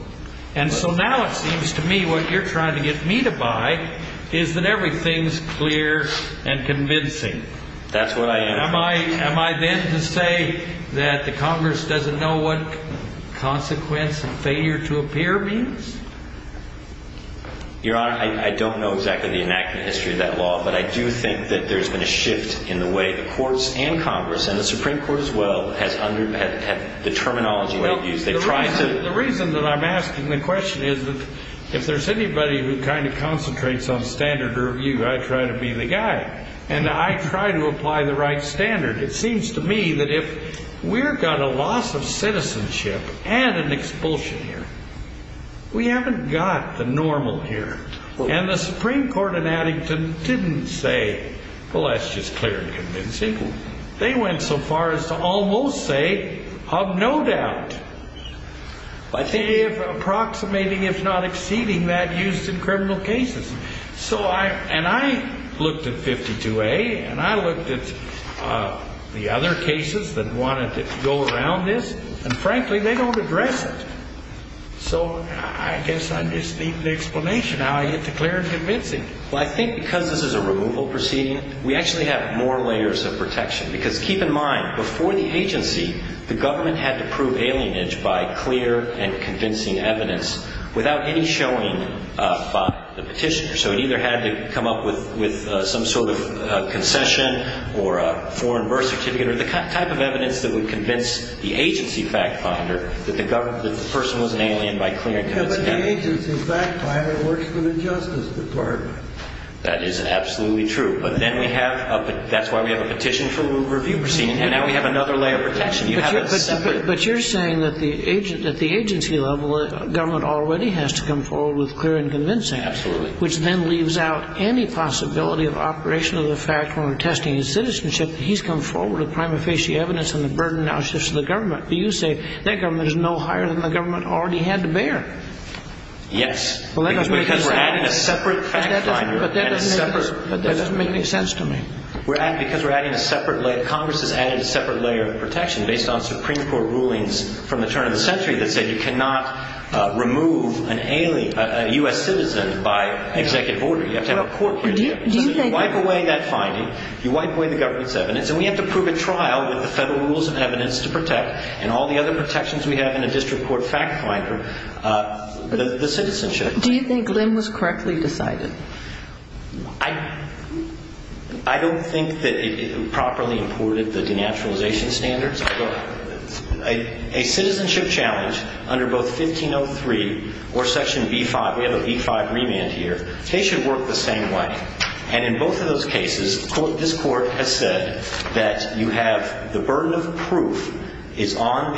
And so now it seems to me what you're trying to get me to buy is that everything's clear and convincing. That's what I am. Am I then to say that the Congress doesn't know what consequence and failure to appear means? Your Honor, I don't know exactly the enactment history of that law, but I do think that there's been a shift in the way the courts and Congress and the Supreme Court as well has under the terminology they've used. The reason that I'm asking the question is that if there's anybody who kind of concentrates on standard review, I try to be the guy. And I try to apply the right standard. It seems to me that if we're got a loss of citizenship and an expulsion here, we haven't got the normal here. And the Supreme Court in Addington didn't say, well, that's just clear and convincing. They went so far as to almost say of no doubt. But they're approximating, if not exceeding, that used in criminal cases. So I and I looked at 52A and I looked at the other cases that wanted to go around this. And frankly, they don't address it. So I guess I just need the explanation how I get the clear and convincing. Well, I think because this is a removal proceeding, we actually have more layers of protection. Because keep in mind, before the agency, the government had to prove alienage by clear and convincing evidence without any showing by the petitioner. So it either had to come up with some sort of concession or a foreign birth certificate or the type of evidence that would convince the agency fact finder that the person was an alien by clear and convincing evidence. Yeah, but the agency fact finder works for the Justice Department. That is absolutely true. But then we have – that's why we have a petition for a removal proceeding. And now we have another layer of protection. But you're saying that the agency level government already has to come forward with clear and convincing. Absolutely. Which then leaves out any possibility of operation of the fact when we're testing his citizenship that he's come forward with prima facie evidence and the burden now shifts to the government. But you say that government is no higher than the government already had to bear. Yes. Because we're adding a separate fact finder and a separate – But that doesn't make any sense to me. Because we're adding a separate – Congress has added a separate layer of protection based on Supreme Court rulings from the turn of the century that said you cannot remove a U.S. citizen by executive order. You have to have a court procedure. Do you think – And all the other protections we have in a district court fact finder, the citizenship. Do you think Lim was correctly decided? I don't think that it properly imported the denaturalization standards. But a citizenship challenge under both 1503 or Section B-5 – we have a B-5 remand here – they should work the same way. And in both of those cases, this court has said that you have the burden of proof is on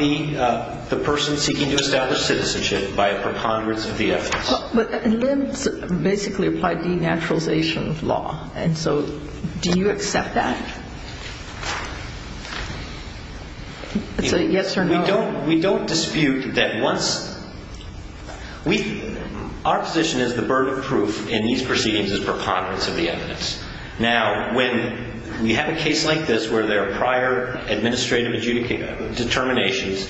the person seeking to establish citizenship by a preponderance of the evidence. But Lim basically applied denaturalization law. And so do you accept that? It's a yes or no. Well, we don't dispute that once – we – our position is the burden of proof in these proceedings is preponderance of the evidence. Now, when we have a case like this where there are prior administrative determinations,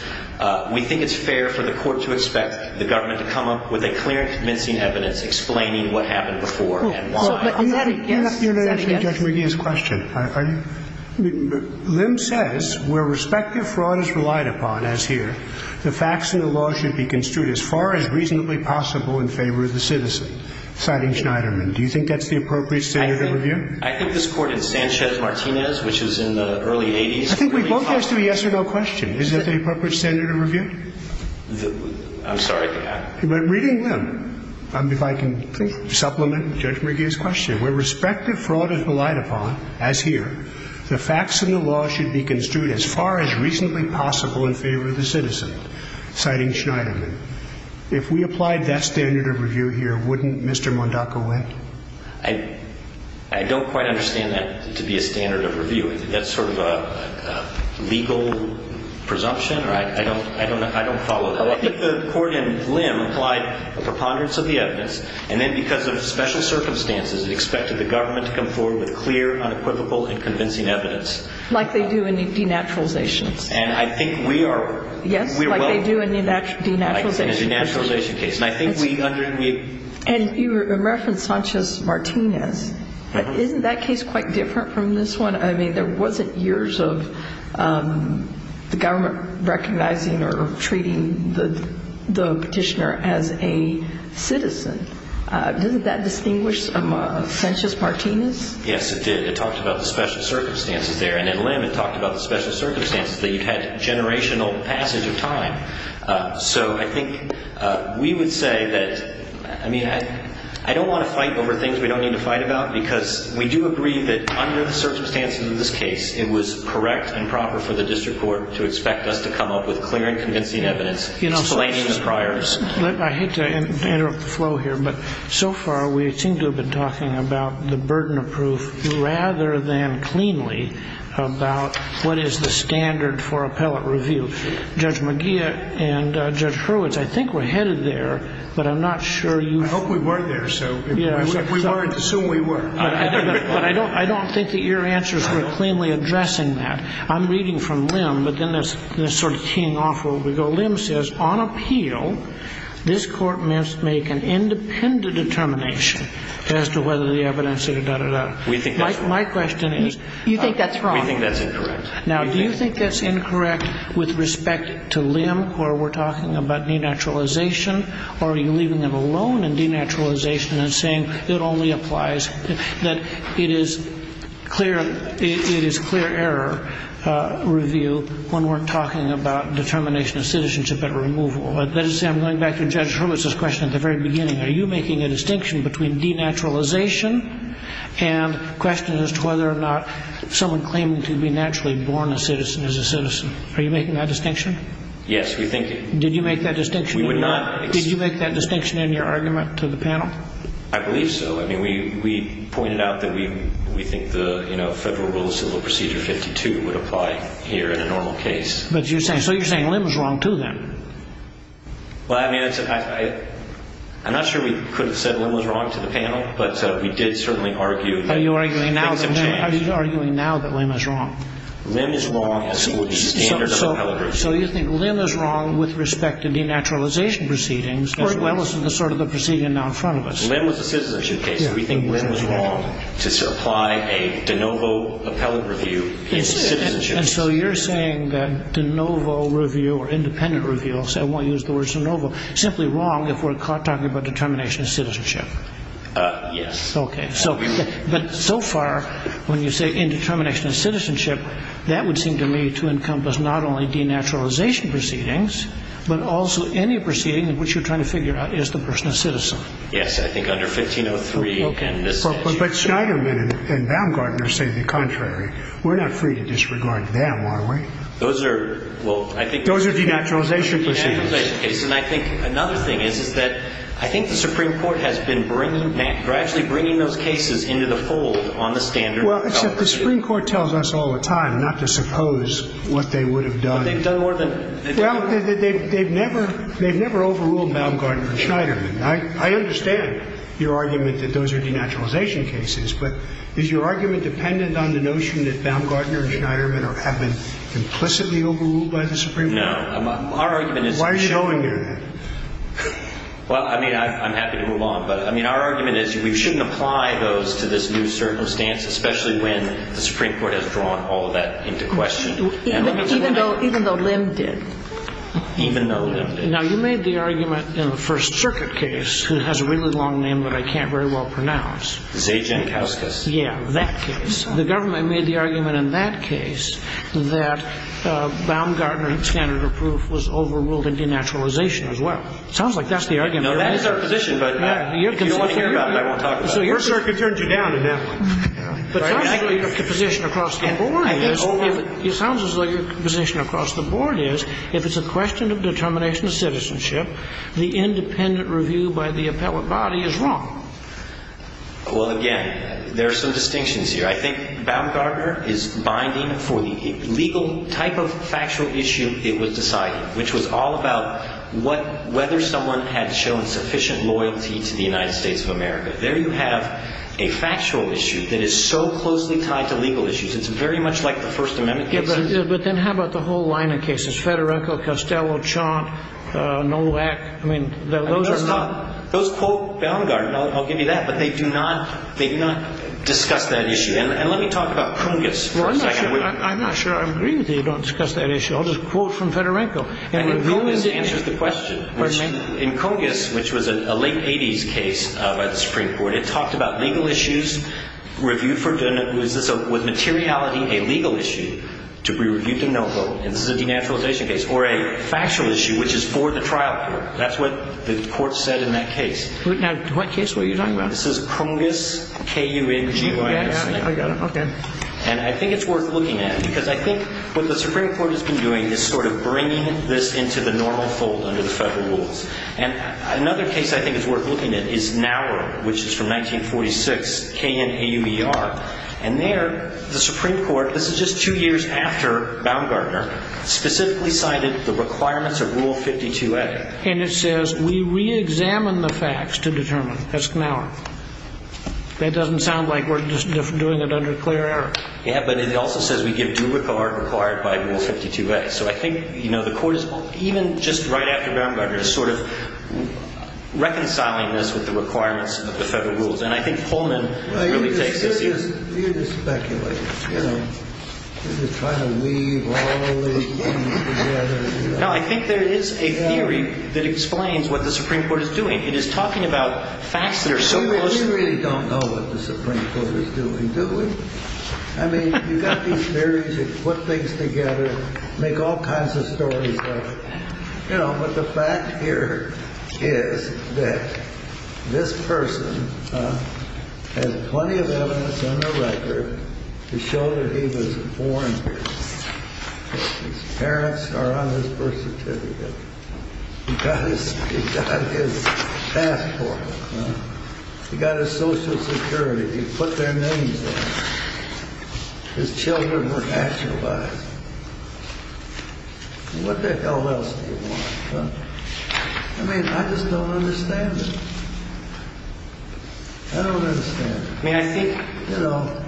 we think it's fair for the court to expect the government to come up with a clear and convincing evidence explaining what happened before and why. Is that a yes? I'm not here to answer Judge McGee's question. Are you – Lim says where respective fraud is relied upon, as here, the facts in the law should be construed as far as reasonably possible in favor of the citizen, citing Schneiderman. Do you think that's the appropriate standard of review? I think this Court in Sanchez-Martinez, which is in the early 80s – I think we both asked a yes or no question. Is that the appropriate standard of review? I'm sorry. But reading Lim, if I can supplement Judge McGee's question, where respective fraud is relied upon, as here, the facts in the law should be construed as far as reasonably possible in favor of the citizen, citing Schneiderman. If we applied that standard of review here, wouldn't Mr. Mondacco win? I don't quite understand that to be a standard of review. I think that's sort of a legal presumption. I don't follow that. I think the Court in Lim applied a preponderance of the evidence, and then because of special circumstances expected the government to come forward with clear, unequivocal, and convincing evidence. Like they do in denaturalizations. And I think we are – Yes, like they do in denaturalization cases. In a denaturalization case. And I think we – And you referenced Sanchez-Martinez. Isn't that case quite different from this one? I mean, there wasn't years of the government recognizing or treating the petitioner as a citizen. Doesn't that distinguish from Sanchez-Martinez? Yes, it did. It talked about the special circumstances there. And in Lim, it talked about the special circumstances that you had generational passage of time. So I think we would say that – I mean, I don't want to fight over things we don't need to fight about, because we do agree that under the circumstances of this case, it was correct and proper for the district court to expect us to come up with clear and convincing evidence explaining the priors. I hate to interrupt the flow here, but so far we seem to have been talking about the burden of proof rather than cleanly about what is the standard for appellate review. Judge McGeer and Judge Hurwitz, I think we're headed there, but I'm not sure you – I hope we weren't there. So if we weren't, assume we were. But I don't think that your answers were cleanly addressing that. I'm reading from Lim, but then that's sort of keying off where we go. Lim says, On appeal, this Court must make an independent determination as to whether the evidence is a da-da-da. We think that's wrong. My question is – You think that's wrong. We think that's incorrect. Now, do you think that's incorrect with respect to Lim, where we're talking about denaturalization? Or are you leaving him alone in denaturalization and saying it only applies – that it is clear – it is clear error review when we're talking about determination of citizenship at removal? That is to say, I'm going back to Judge Hurwitz's question at the very beginning. Are you making a distinction between denaturalization and questions as to whether or not someone claiming to be naturally born a citizen is a citizen? Are you making that distinction? Yes, we think – Did you make that distinction? We would not – Did you make that distinction in your argument to the panel? I believe so. I mean, we pointed out that we think the Federal Rule of Civil Procedure 52 would apply here in a normal case. But you're saying – so you're saying Lim is wrong, too, then. Well, I mean, I'm not sure we could have said Lim was wrong to the panel, but we did certainly argue that things have changed. Are you arguing now that Lim is wrong? Lim is wrong as to the standard of appellate review. So you think Lim is wrong with respect to denaturalization proceedings as well as the sort of the proceeding now in front of us? Lim was a citizenship case. We think Lim is wrong to apply a de novo appellate review in citizenship. And so you're saying that de novo review or independent review – I won't use the word de novo – is simply wrong if we're talking about determination of citizenship? Yes. Okay. But so far, when you say indetermination of citizenship, that would seem to me to encompass not only denaturalization proceedings, but also any proceeding in which you're trying to figure out, is the person a citizen? Yes, I think under 1503 – But Schneiderman and Baumgartner say the contrary. We're not free to disregard them, are we? Those are – well, I think – Those are denaturalization proceedings. And I think another thing is, is that I think the Supreme Court has been bringing – they're actually bringing those cases into the fold on the standard of appellate review. Well, except the Supreme Court tells us all the time not to suppose what they would have done. But they've done more than – Well, they've never overruled Baumgartner and Schneiderman. I understand your argument that those are denaturalization cases. But is your argument dependent on the notion that Baumgartner and Schneiderman have been implicitly overruled by the Supreme Court? No. Why are you showing me that? Well, I mean, I'm happy to move on. But, I mean, our argument is we shouldn't apply those to this new circumstance, especially when the Supreme Court has drawn all of that into question. Even though Lim did. Even though Lim did. Now, you made the argument in the First Circuit case – it has a really long name that I can't very well pronounce. Zajan-Kauskas. Yeah, that case. The government made the argument in that case that Baumgartner and standard of proof was overruled in denaturalization as well. It sounds like that's the argument. No, that is our position. But if you don't want to hear about it, I won't talk about it. First Circuit turned you down. It sounds as though your position across the board is, if it's a question of determination of citizenship, the independent review by the appellate body is wrong. Well, again, there are some distinctions here. I think Baumgartner is binding for the legal type of factual issue it was deciding, which was all about whether someone had shown sufficient loyalty to the United States of America. There you have a factual issue that is so closely tied to legal issues. It's very much like the First Amendment cases. Yeah, but then how about the whole line of cases? Fedorenko, Costello, Chant, Nolak. I mean, those are not – those quote Baumgartner. I'll give you that. But they do not discuss that issue. And let me talk about Kongos for a second. I'm not sure I agree with you. You don't discuss that issue. I'll just quote from Fedorenko. And Kongos answers the question. In Kongos, which was a late 80s case by the Supreme Court, it talked about legal issues reviewed for – was this with materiality a legal issue to be reviewed to no vote? And this is a denaturalization case. Or a factual issue, which is for the trial court. That's what the court said in that case. Now, what case were you talking about? This is Kongos, K-U-N-G-O-S. Okay. And I think it's worth looking at because I think what the Supreme Court has been doing is sort of bringing this into the normal fold under the federal rules. And another case I think is worth looking at is Naur, which is from 1946, K-N-A-U-E-R. And there, the Supreme Court – this is just two years after Baumgartner – specifically cited the requirements of Rule 52A. And it says we reexamine the facts to determine. That's Naur. That doesn't sound like we're just doing it under clear error. Yeah, but it also says we give due regard required by Rule 52A. So I think, you know, the court is even just right after Baumgartner sort of reconciling this with the requirements of the federal rules. And I think Pullman really takes this issue. Well, you're just speculating. You're just trying to weave all these things together. No, I think there is a theory that explains what the Supreme Court is doing. It is talking about facts that are so close. You really don't know what the Supreme Court is doing, do we? I mean, you've got these theories that put things together, make all kinds of stories out of it. You know, but the fact here is that this person has plenty of evidence on the record to show that he was born here. His parents are on his birth certificate. He got his passport. He got his Social Security. He put their names on it. His children were nationalized. What the hell else do you want? I mean, I just don't understand it. I don't understand it. May I speak? You know,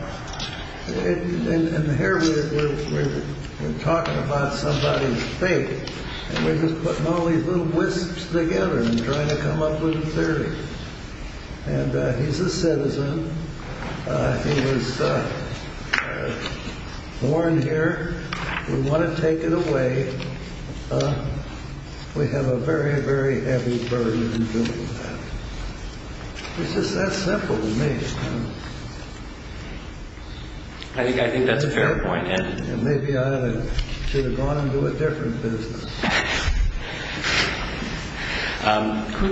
and here we're talking about somebody's faith, and we're just putting all these little wisps together and trying to come up with a theory. And he's a citizen. He was born here. We want to take it away. We have a very, very heavy burden in dealing with that. It's just that simple to me. I think that's a fair point. Maybe I should have gone and do a different business.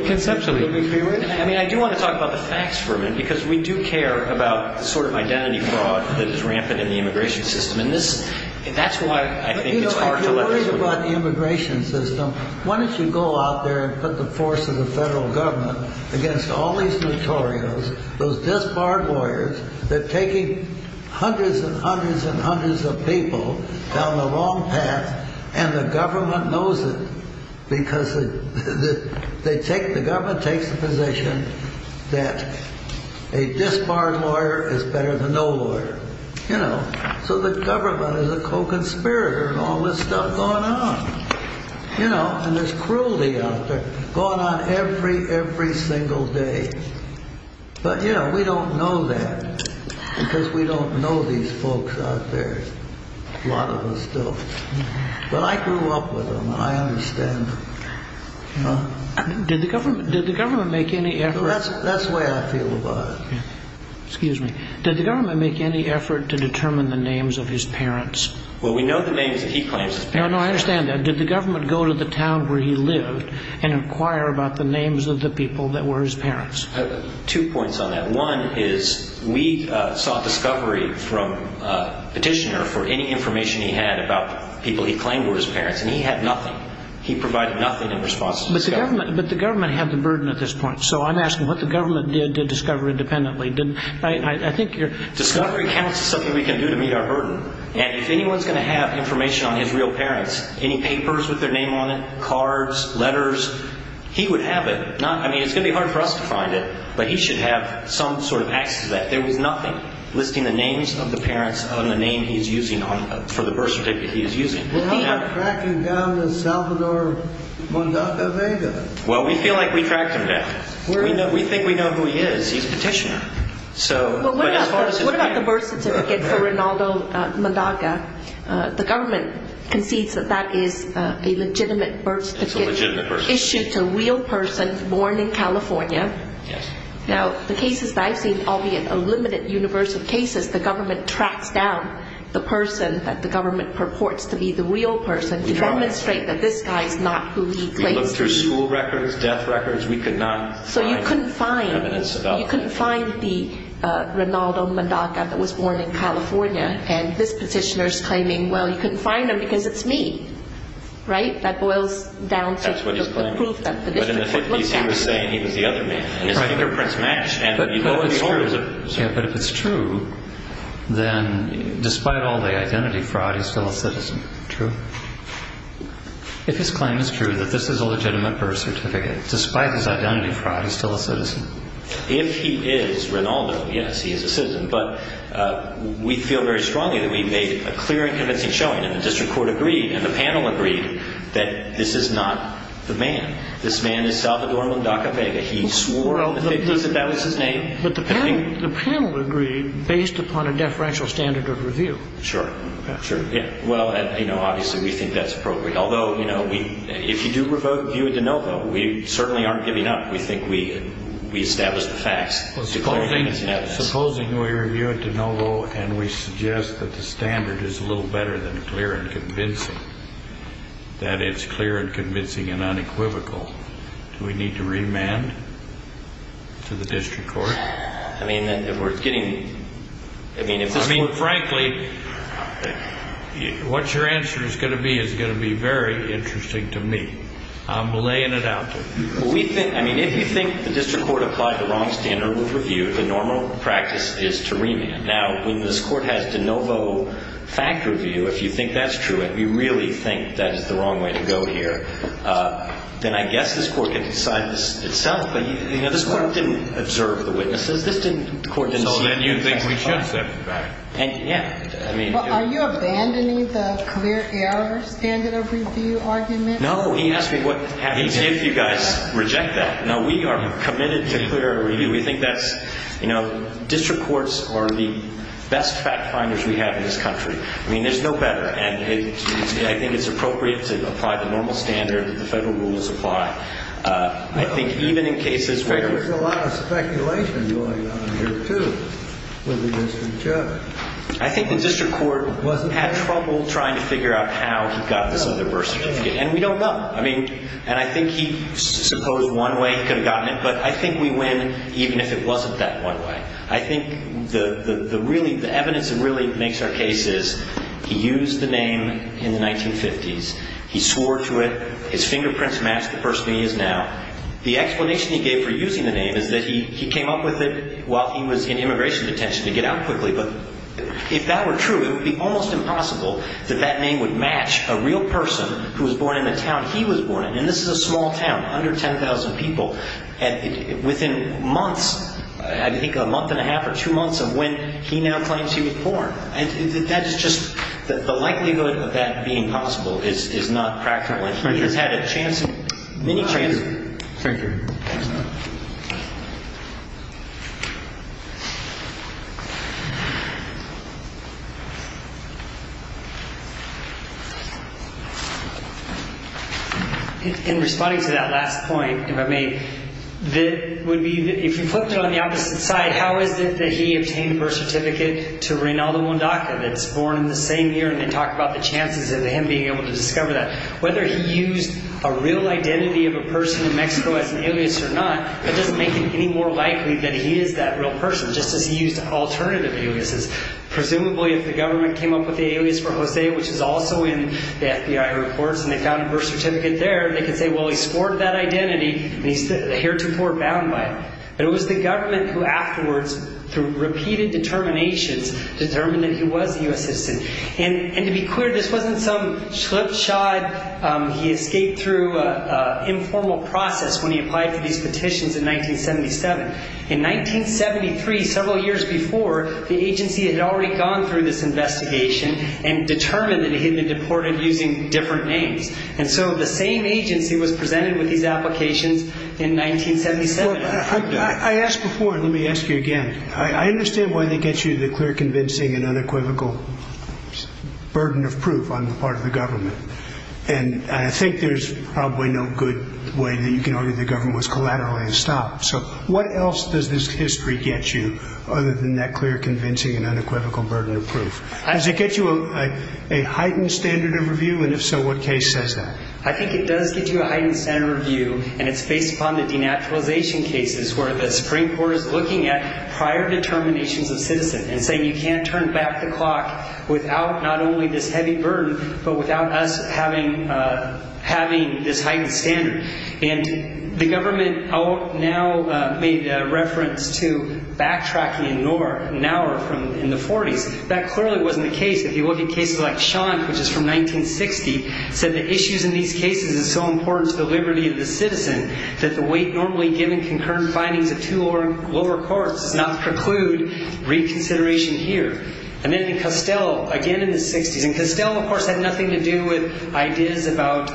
Conceptually, I mean, I do want to talk about the facts for a minute because we do care about the sort of identity fraud that is rampant in the immigration system, and that's why I think it's hard to let go. You know, if you're worried about the immigration system, why don't you go out there and put the force of the federal government against all these notorious, those disbarred lawyers that are taking hundreds and hundreds and hundreds of people down the wrong path, and the government knows it because the government takes the position that a disbarred lawyer is better than no lawyer. So the government is a co-conspirator in all this stuff going on. And there's cruelty out there going on every, every single day. But we don't know that because we don't know these folks out there. A lot of us don't. But I grew up with them, and I understand them. Did the government make any effort? That's the way I feel about it. Excuse me. Did the government make any effort to determine the names of his parents? Well, we know the names that he claims as parents. No, no, I understand that. Did the government go to the town where he lived and inquire about the names of the people that were his parents? Two points on that. One is we sought discovery from a petitioner for any information he had about people he claimed were his parents, and he had nothing. He provided nothing in response to the discovery. But the government had the burden at this point. So I'm asking what the government did to discover independently. Discovery counts as something we can do to meet our burden. And if anyone's going to have information on his real parents, any papers with their name on it, cards, letters, he would have it. I mean, it's going to be hard for us to find it, but he should have some sort of access to that. There was nothing listing the names of the parents on the name he's using for the birth certificate he's using. What about tracking down the Salvador Mondaga Vega? Well, we feel like we tracked him down. We think we know who he is. He's a petitioner. What about the birth certificate for Rinaldo Mondaga? The government concedes that that is a legitimate birth certificate issued to a real person born in California. Now, the cases that I've seen, albeit a limited universe of cases, the government tracks down the person that the government purports to be the real person to demonstrate that this guy is not who he claims to be. We looked through school records, death records. We could not find evidence about that. So you couldn't find the Rinaldo Mondaga that was born in California, and this petitioner is claiming, well, you couldn't find him because it's me, right? That's what he's claiming. But in the 50s, he was saying he was the other man. His fingerprints matched. But if it's true, then despite all the identity fraud, he's still a citizen. True. If his claim is true that this is a legitimate birth certificate, despite his identity fraud, he's still a citizen. If he is Rinaldo, yes, he is a citizen. But we feel very strongly that we made a clear and convincing showing, and the district court agreed and the panel agreed that this is not the man. This man is Salvador Mondaga Vega. He swore on the 50s that that was his name. But the panel agreed based upon a deferential standard of review. Sure. Well, obviously, we think that's appropriate. Although, you know, if you do review it de novo, we certainly aren't giving up. We think we established the facts. Supposing we review it de novo and we suggest that the standard is a little better than clear and convincing, that it's clear and convincing and unequivocal, do we need to remand to the district court? I mean, if we're getting – I mean, if this were – I mean, frankly, what your answer is going to be is going to be very interesting to me. I'm laying it out to you. We think – I mean, if you think the district court applied the wrong standard of review, the normal practice is to remand. Now, when this court has de novo fact review, if you think that's true and you really think that is the wrong way to go here, then I guess this court can decide this itself. But, you know, this court didn't observe the witnesses. This didn't – the court didn't see – So then you think we should step back. Yeah. I mean – Well, are you abandoning the clear error standard of review argument? No. He asked me what – if you guys reject that. No, we are committed to clear error review. We think that's – you know, district courts are the best fact finders we have in this country. I mean, there's no better. And I think it's appropriate to apply the normal standard that the federal rules apply. I think even in cases where – There was a lot of speculation going on here, too, with the district judge. I think the district court had trouble trying to figure out how he got this other birth certificate. And we don't know. I mean – and I think he – suppose one way he could have gotten it. But I think we win even if it wasn't that one way. I think the really – the evidence that really makes our case is he used the name in the 1950s. He swore to it. His fingerprints match the person he is now. The explanation he gave for using the name is that he came up with it while he was in immigration detention to get out quickly. But if that were true, it would be almost impossible that that name would match a real person who was born in the town he was born in. And this is a small town, under 10,000 people. And within months – I think a month and a half or two months of when he now claims he was born. And that is just – the likelihood of that being possible is not practical. He has had a chance – many chances. Thank you. In responding to that last point, if I may, that would be – if you flipped it on the opposite side, how is it that he obtained a birth certificate to Reynaldo Mundaca that's born in the same year and then talk about the chances of him being able to discover that? Whether he used a real identity of a person in Mexico as an alias or not, that doesn't make it any more likely that he is that real person, just as he used alternative aliases. Presumably, if the government came up with the alias for Jose, which is also in the FBI reports, and they found a birth certificate there, they could say, well, he scored that identity, and he's heretofore bound by it. But it was the government who afterwards, through repeated determinations, determined that he was a U.S. citizen. And to be clear, this wasn't some slipshod. He escaped through an informal process when he applied for these petitions in 1977. In 1973, several years before, the agency had already gone through this investigation and determined that he had been deported using different names. And so the same agency was presented with these applications in 1977. I asked before, and let me ask you again. I understand why they get you the clear, convincing, and unequivocal burden of proof on the part of the government. And I think there's probably no good way that you can argue the government was collateralized and stopped. So what else does this history get you other than that clear, convincing, and unequivocal burden of proof? Does it get you a heightened standard of review? And if so, what case says that? I think it does get you a heightened standard of review, and it's based upon the denaturalization cases where the Supreme Court is looking at prior determinations of citizens and saying you can't turn back the clock without not only this heavy burden, but without us having this heightened standard. And the government now made reference to backtracking an hour in the 40s. That clearly wasn't the case. If you look at cases like Shonk, which is from 1960, it said the issues in these cases are so important to the liberty of the citizen that the weight normally given concurrent findings of two lower courts does not preclude reconsideration here. And then in Costello, again in the 60s, and Costello, of course, had nothing to do with ideas about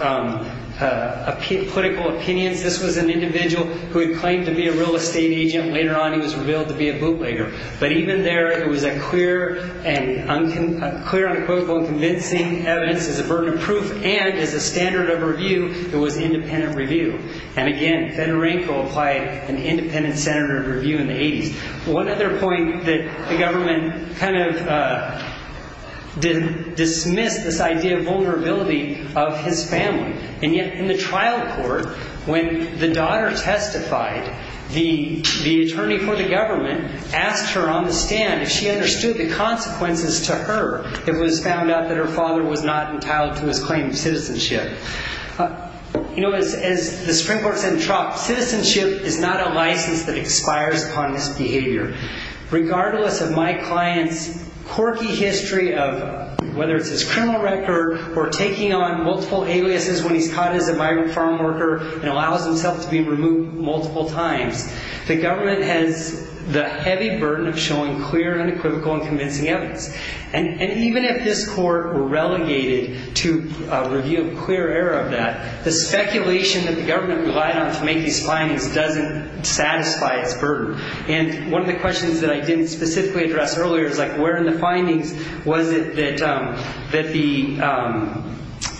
political opinions. This was an individual who had claimed to be a real estate agent. Later on, he was revealed to be a bootlegger. But even there, it was a clear and unquotable and convincing evidence as a burden of proof, and as a standard of review, it was independent review. And again, Fedorenko applied an independent standard of review in the 80s. One other point that the government kind of dismissed this idea of vulnerability of his family. And yet, in the trial court, when the daughter testified, the attorney for the government asked her on the stand if she understood the consequences to her if it was found out that her father was not entitled to his claim of citizenship. You know, as the Supreme Court said in Trump, citizenship is not a license that expires upon this behavior. Regardless of my client's quirky history of whether it's his criminal record or taking on multiple aliases when he's caught as a migrant farm worker and allows himself to be removed multiple times, the government has the heavy burden of showing clear and unequivocal and convincing evidence. And even if this court were relegated to review a clear error of that, the speculation that the government relied on to make these findings doesn't satisfy its burden. And one of the questions that I didn't specifically address earlier is like, was it that the,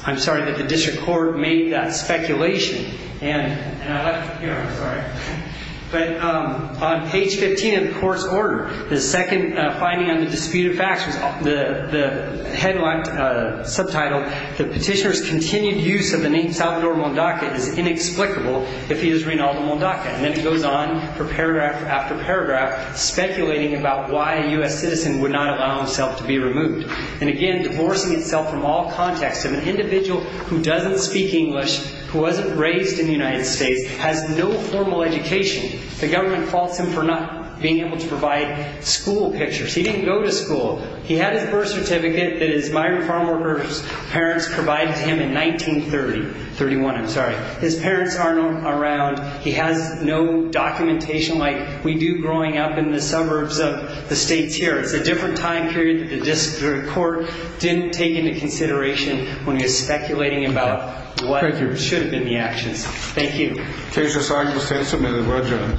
I'm sorry, that the district court made that speculation. And I left it here, I'm sorry. But on page 15 of the court's order, the second finding on the disputed facts, the headline subtitled, the petitioner's continued use of the name Salvador Mondaca is inexplicable if he is Reynaldo Mondaca. And then it goes on for paragraph after paragraph, speculating about why a U.S. citizen would not allow himself to be removed. And again, divorcing itself from all context. An individual who doesn't speak English, who wasn't raised in the United States, has no formal education. The government faults him for not being able to provide school pictures. He didn't go to school. He had his birth certificate that his migrant farm worker's parents provided to him in 1930. 31, I'm sorry. His parents aren't around. He has no documentation like we do growing up in the suburbs of the states here. It's a different time period that the district court didn't take into consideration when he was speculating about what should have been the actions. Thank you. Case is signed. The state is submitted. Roger.